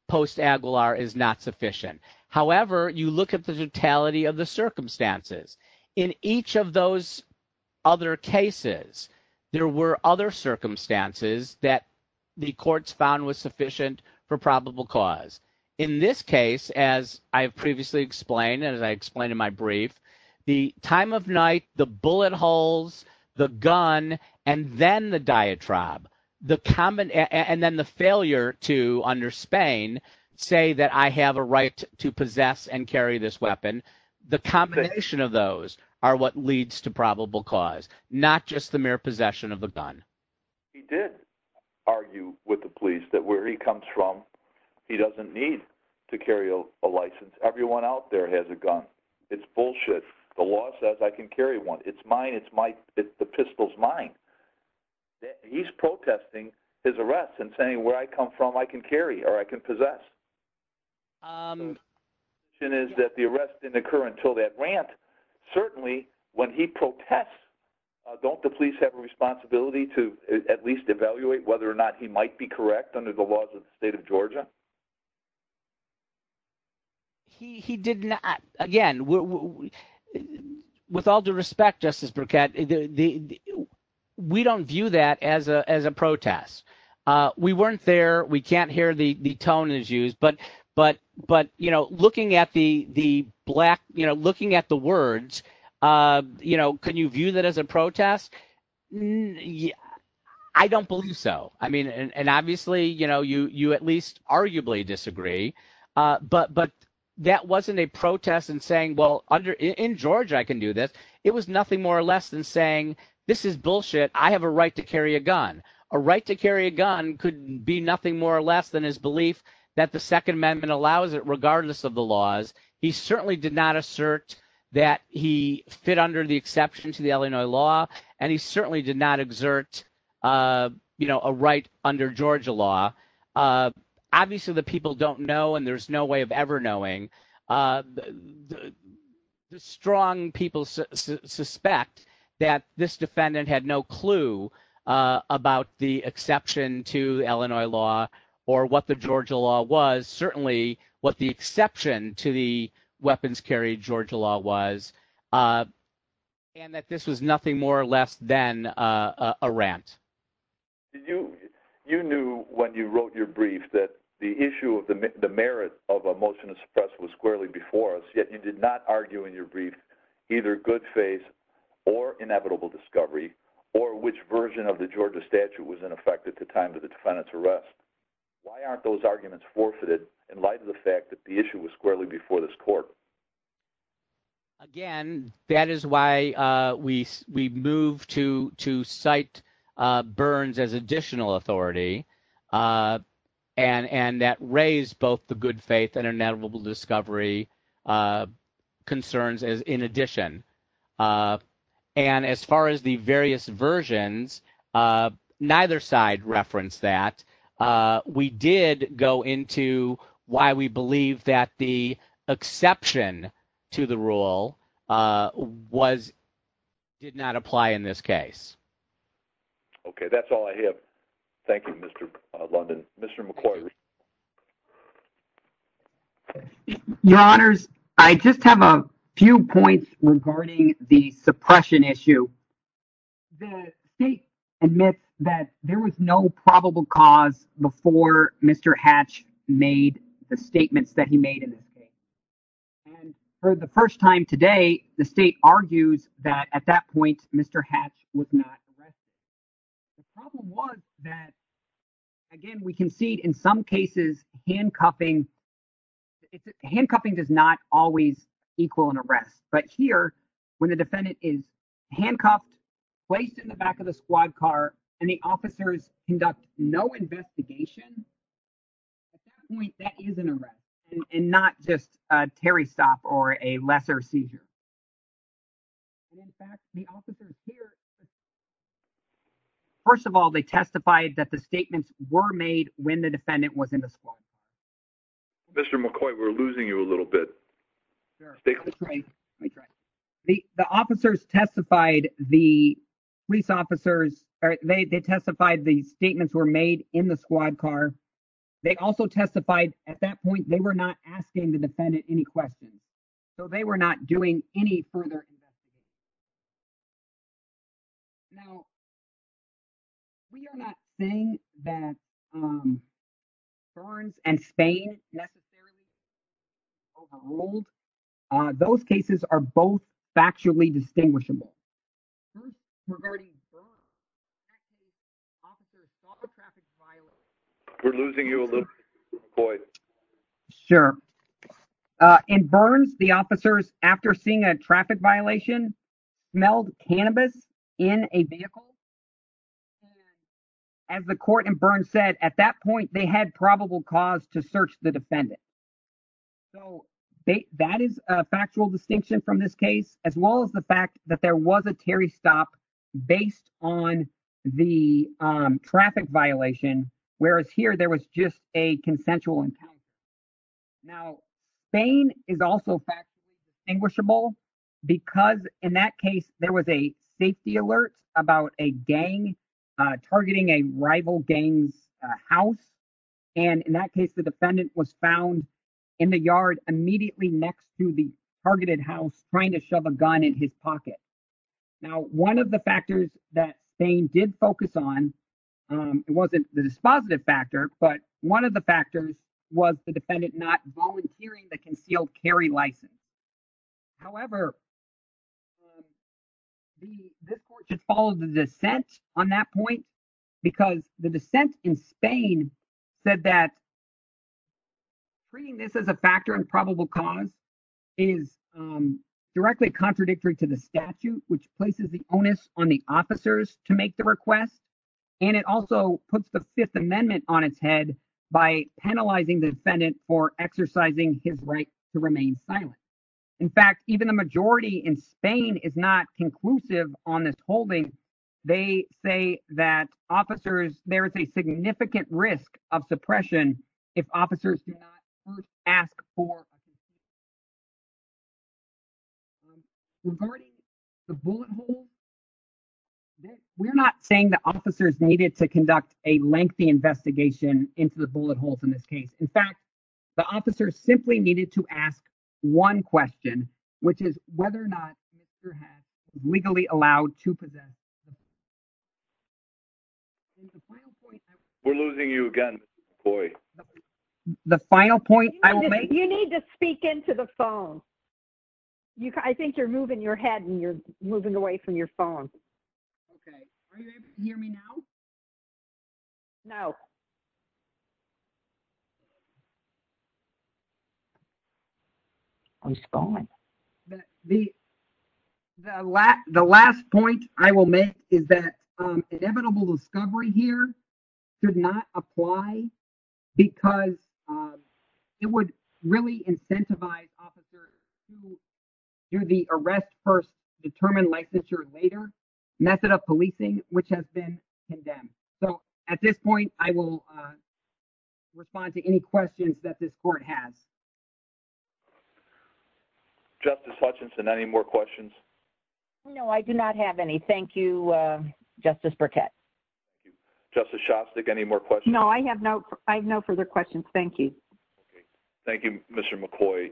post Aguilar is not sufficient. However, you look at the totality of the circumstances in each of those other cases. There were other circumstances that the courts found was sufficient for probable cause. In this case, as I have previously explained and as I explained in my brief, the time of night, the bullet holes, the gun and then the diatribe, the common and then the failure to under Spain say that I have a right to possess and carry this weapon. The combination of those are what leads to probable cause, not just the mere possession of a gun. He did argue with the police that where he comes from, he doesn't need to carry a license. Everyone out there has a gun. It's bullshit. The law says I can carry one. It's mine. It's the pistol's mine. He's protesting his arrest and saying where I come from, I can carry or I can possess. It is that the arrest didn't occur until that rant. Certainly when he protests, don't the police have a responsibility to at least evaluate whether or not he might be correct under the laws of Georgia? He did not. Again, with all due respect, Justice Burkett, we don't view that as a protest. We weren't there. We can't hear the tone is used. But but but, you know, looking at the the black, you know, looking at the words, you know, can you view that as a protest? Mm hmm. I don't believe so. I mean, and obviously, you know, you you at least arguably disagree. But but that wasn't a protest and saying, well, under in Georgia, I can do that. It was nothing more or less than saying this is bullshit. I have a right to carry a gun. A right to carry a gun could be nothing more or less than his belief that the Second Amendment allows it regardless of the laws. He certainly did not assert that he fit under the exception to the Illinois law, and he certainly did not exert a right under Georgia law. Obviously, the people don't know, and there's no way of ever knowing. The strong people suspect that this defendant had no clue about the exception to Illinois law or what the Georgia law was, certainly what the exception to the weapons carry Georgia law was, and that this was nothing more or less than a rant. Did you you knew when you wrote your brief that the issue of the merit of a motion to suppress was squarely before us, yet you did not argue in your brief either good faith or inevitable discovery or which version of the Georgia statute was in effect at the time of the defendant's arrest? Why aren't those arguments forfeited in light of the fact that the issue was squarely before this court? Again, that is why we we move to to cite Burns as additional authority and and that raised both the good faith and inevitable discovery concerns as in addition. And as far as the various versions, neither side referenced that. We did go into why we believe that the exception to the rule did not apply in this case. Okay, that's all I have. Thank you, Mr. London. Mr. McCoy. Your honors, I just have a few points regarding the suppression issue. The state admits that there was no probable cause before Mr. Hatch made the statements that he made in this case. And for the first time today, the state argues that at that point, Mr. Hatch was not arrested. The problem was that, again, we can see in some cases, handcuffing, handcuffing does not always equal an arrest. But here, when the defendant is handcuffed, placed in the back of the squad car, and the officers conduct no investigation, that is an arrest and not just a carry stop or a lesser seizure. In fact, the officers here, first of all, they testified that the statements were made when the defendant was in the squad. Mr. McCoy, we're losing you a little bit. The officers testified, the police officers, they testified the statements were made in the squad car. They also testified at that point, they were not asking the defendant any questions. So they were not doing any further investigation. Now, we are not saying that ferns and fangs necessarily overruled. Those cases are both factually distinguishable. We're losing you a little bit, McCoy. Sure. In Burns, the officers, after seeing a traffic violation, smelled cannabis in a vehicle. As the court in Burns said, at that point, they had probable cause to search the defendant. So that is a factual distinction from this case, as well as the fact that there was a carry stop based on the traffic violation, whereas here there was just a consensual encounter. Now, Fane is also factually distinguishable because in that case, there was a safety alert about a gang targeting a rival gang house. And in that case, the defendant was found in the yard immediately next to the targeted house trying to shove a gun in his pocket. Now, one of the factors that Fane did focus on, it wasn't the dispositive factor, but one of the factors was the defendant not volunteering the concealed carry license. However, this court should follow the dissent on that point because the dissent in Fane said that treating this as a factor of probable cause is directly contradictory to the statute, which places the onus on the officers to make the request. And it also puts the Fifth Amendment on its head by penalizing the defendant for exercising his right to remain silent. In fact, even the majority in Fane is not conclusive on this holding. They say that there is a significant risk of suppression if officers do not first ask for... Regarding the bullet holes, we're not saying the officers needed to conduct a lengthy investigation into the bullet holes in this case. In fact, the officers simply needed to ask one question, which is whether or not the officer has legally allowed to possess... We're losing you again, Roy. The final point I will make... You need to speak into the phone. I think you're moving your head and you're moving away from your phone. Okay. Are you able to hear me now? No. Oh, he's calling. The last point I will make is that inevitable discovery here should not apply because it would really incentivize officers to do the arrest first, determine licensure later method of policing, which has been condemned. So at this point, I will respond to any questions that this court has. Justice Hutchinson, any more questions? No, I do not have any. Thank you, Justice Burkett. Justice Shostak, any more questions? No, I have no further questions. Thank you. Thank you, Mr. McCoy.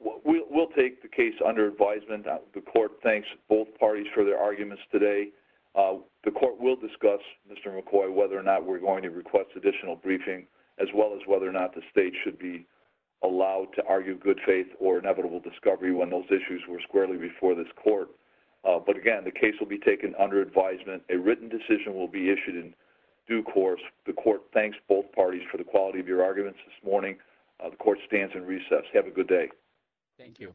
We'll take the case under advisement. The court thanks both parties for their arguments today. The court will discuss, Mr. McCoy, whether or not we're going to request additional briefing, as well as whether or not the state should be allowed to argue good faith or inevitable discovery when those issues were squarely before this court. But again, the case will be taken under advisement. A written decision will be issued in due course. The court thanks both parties for the quality of your arguments this morning. The court stands and recess. Have a good day. Thank you.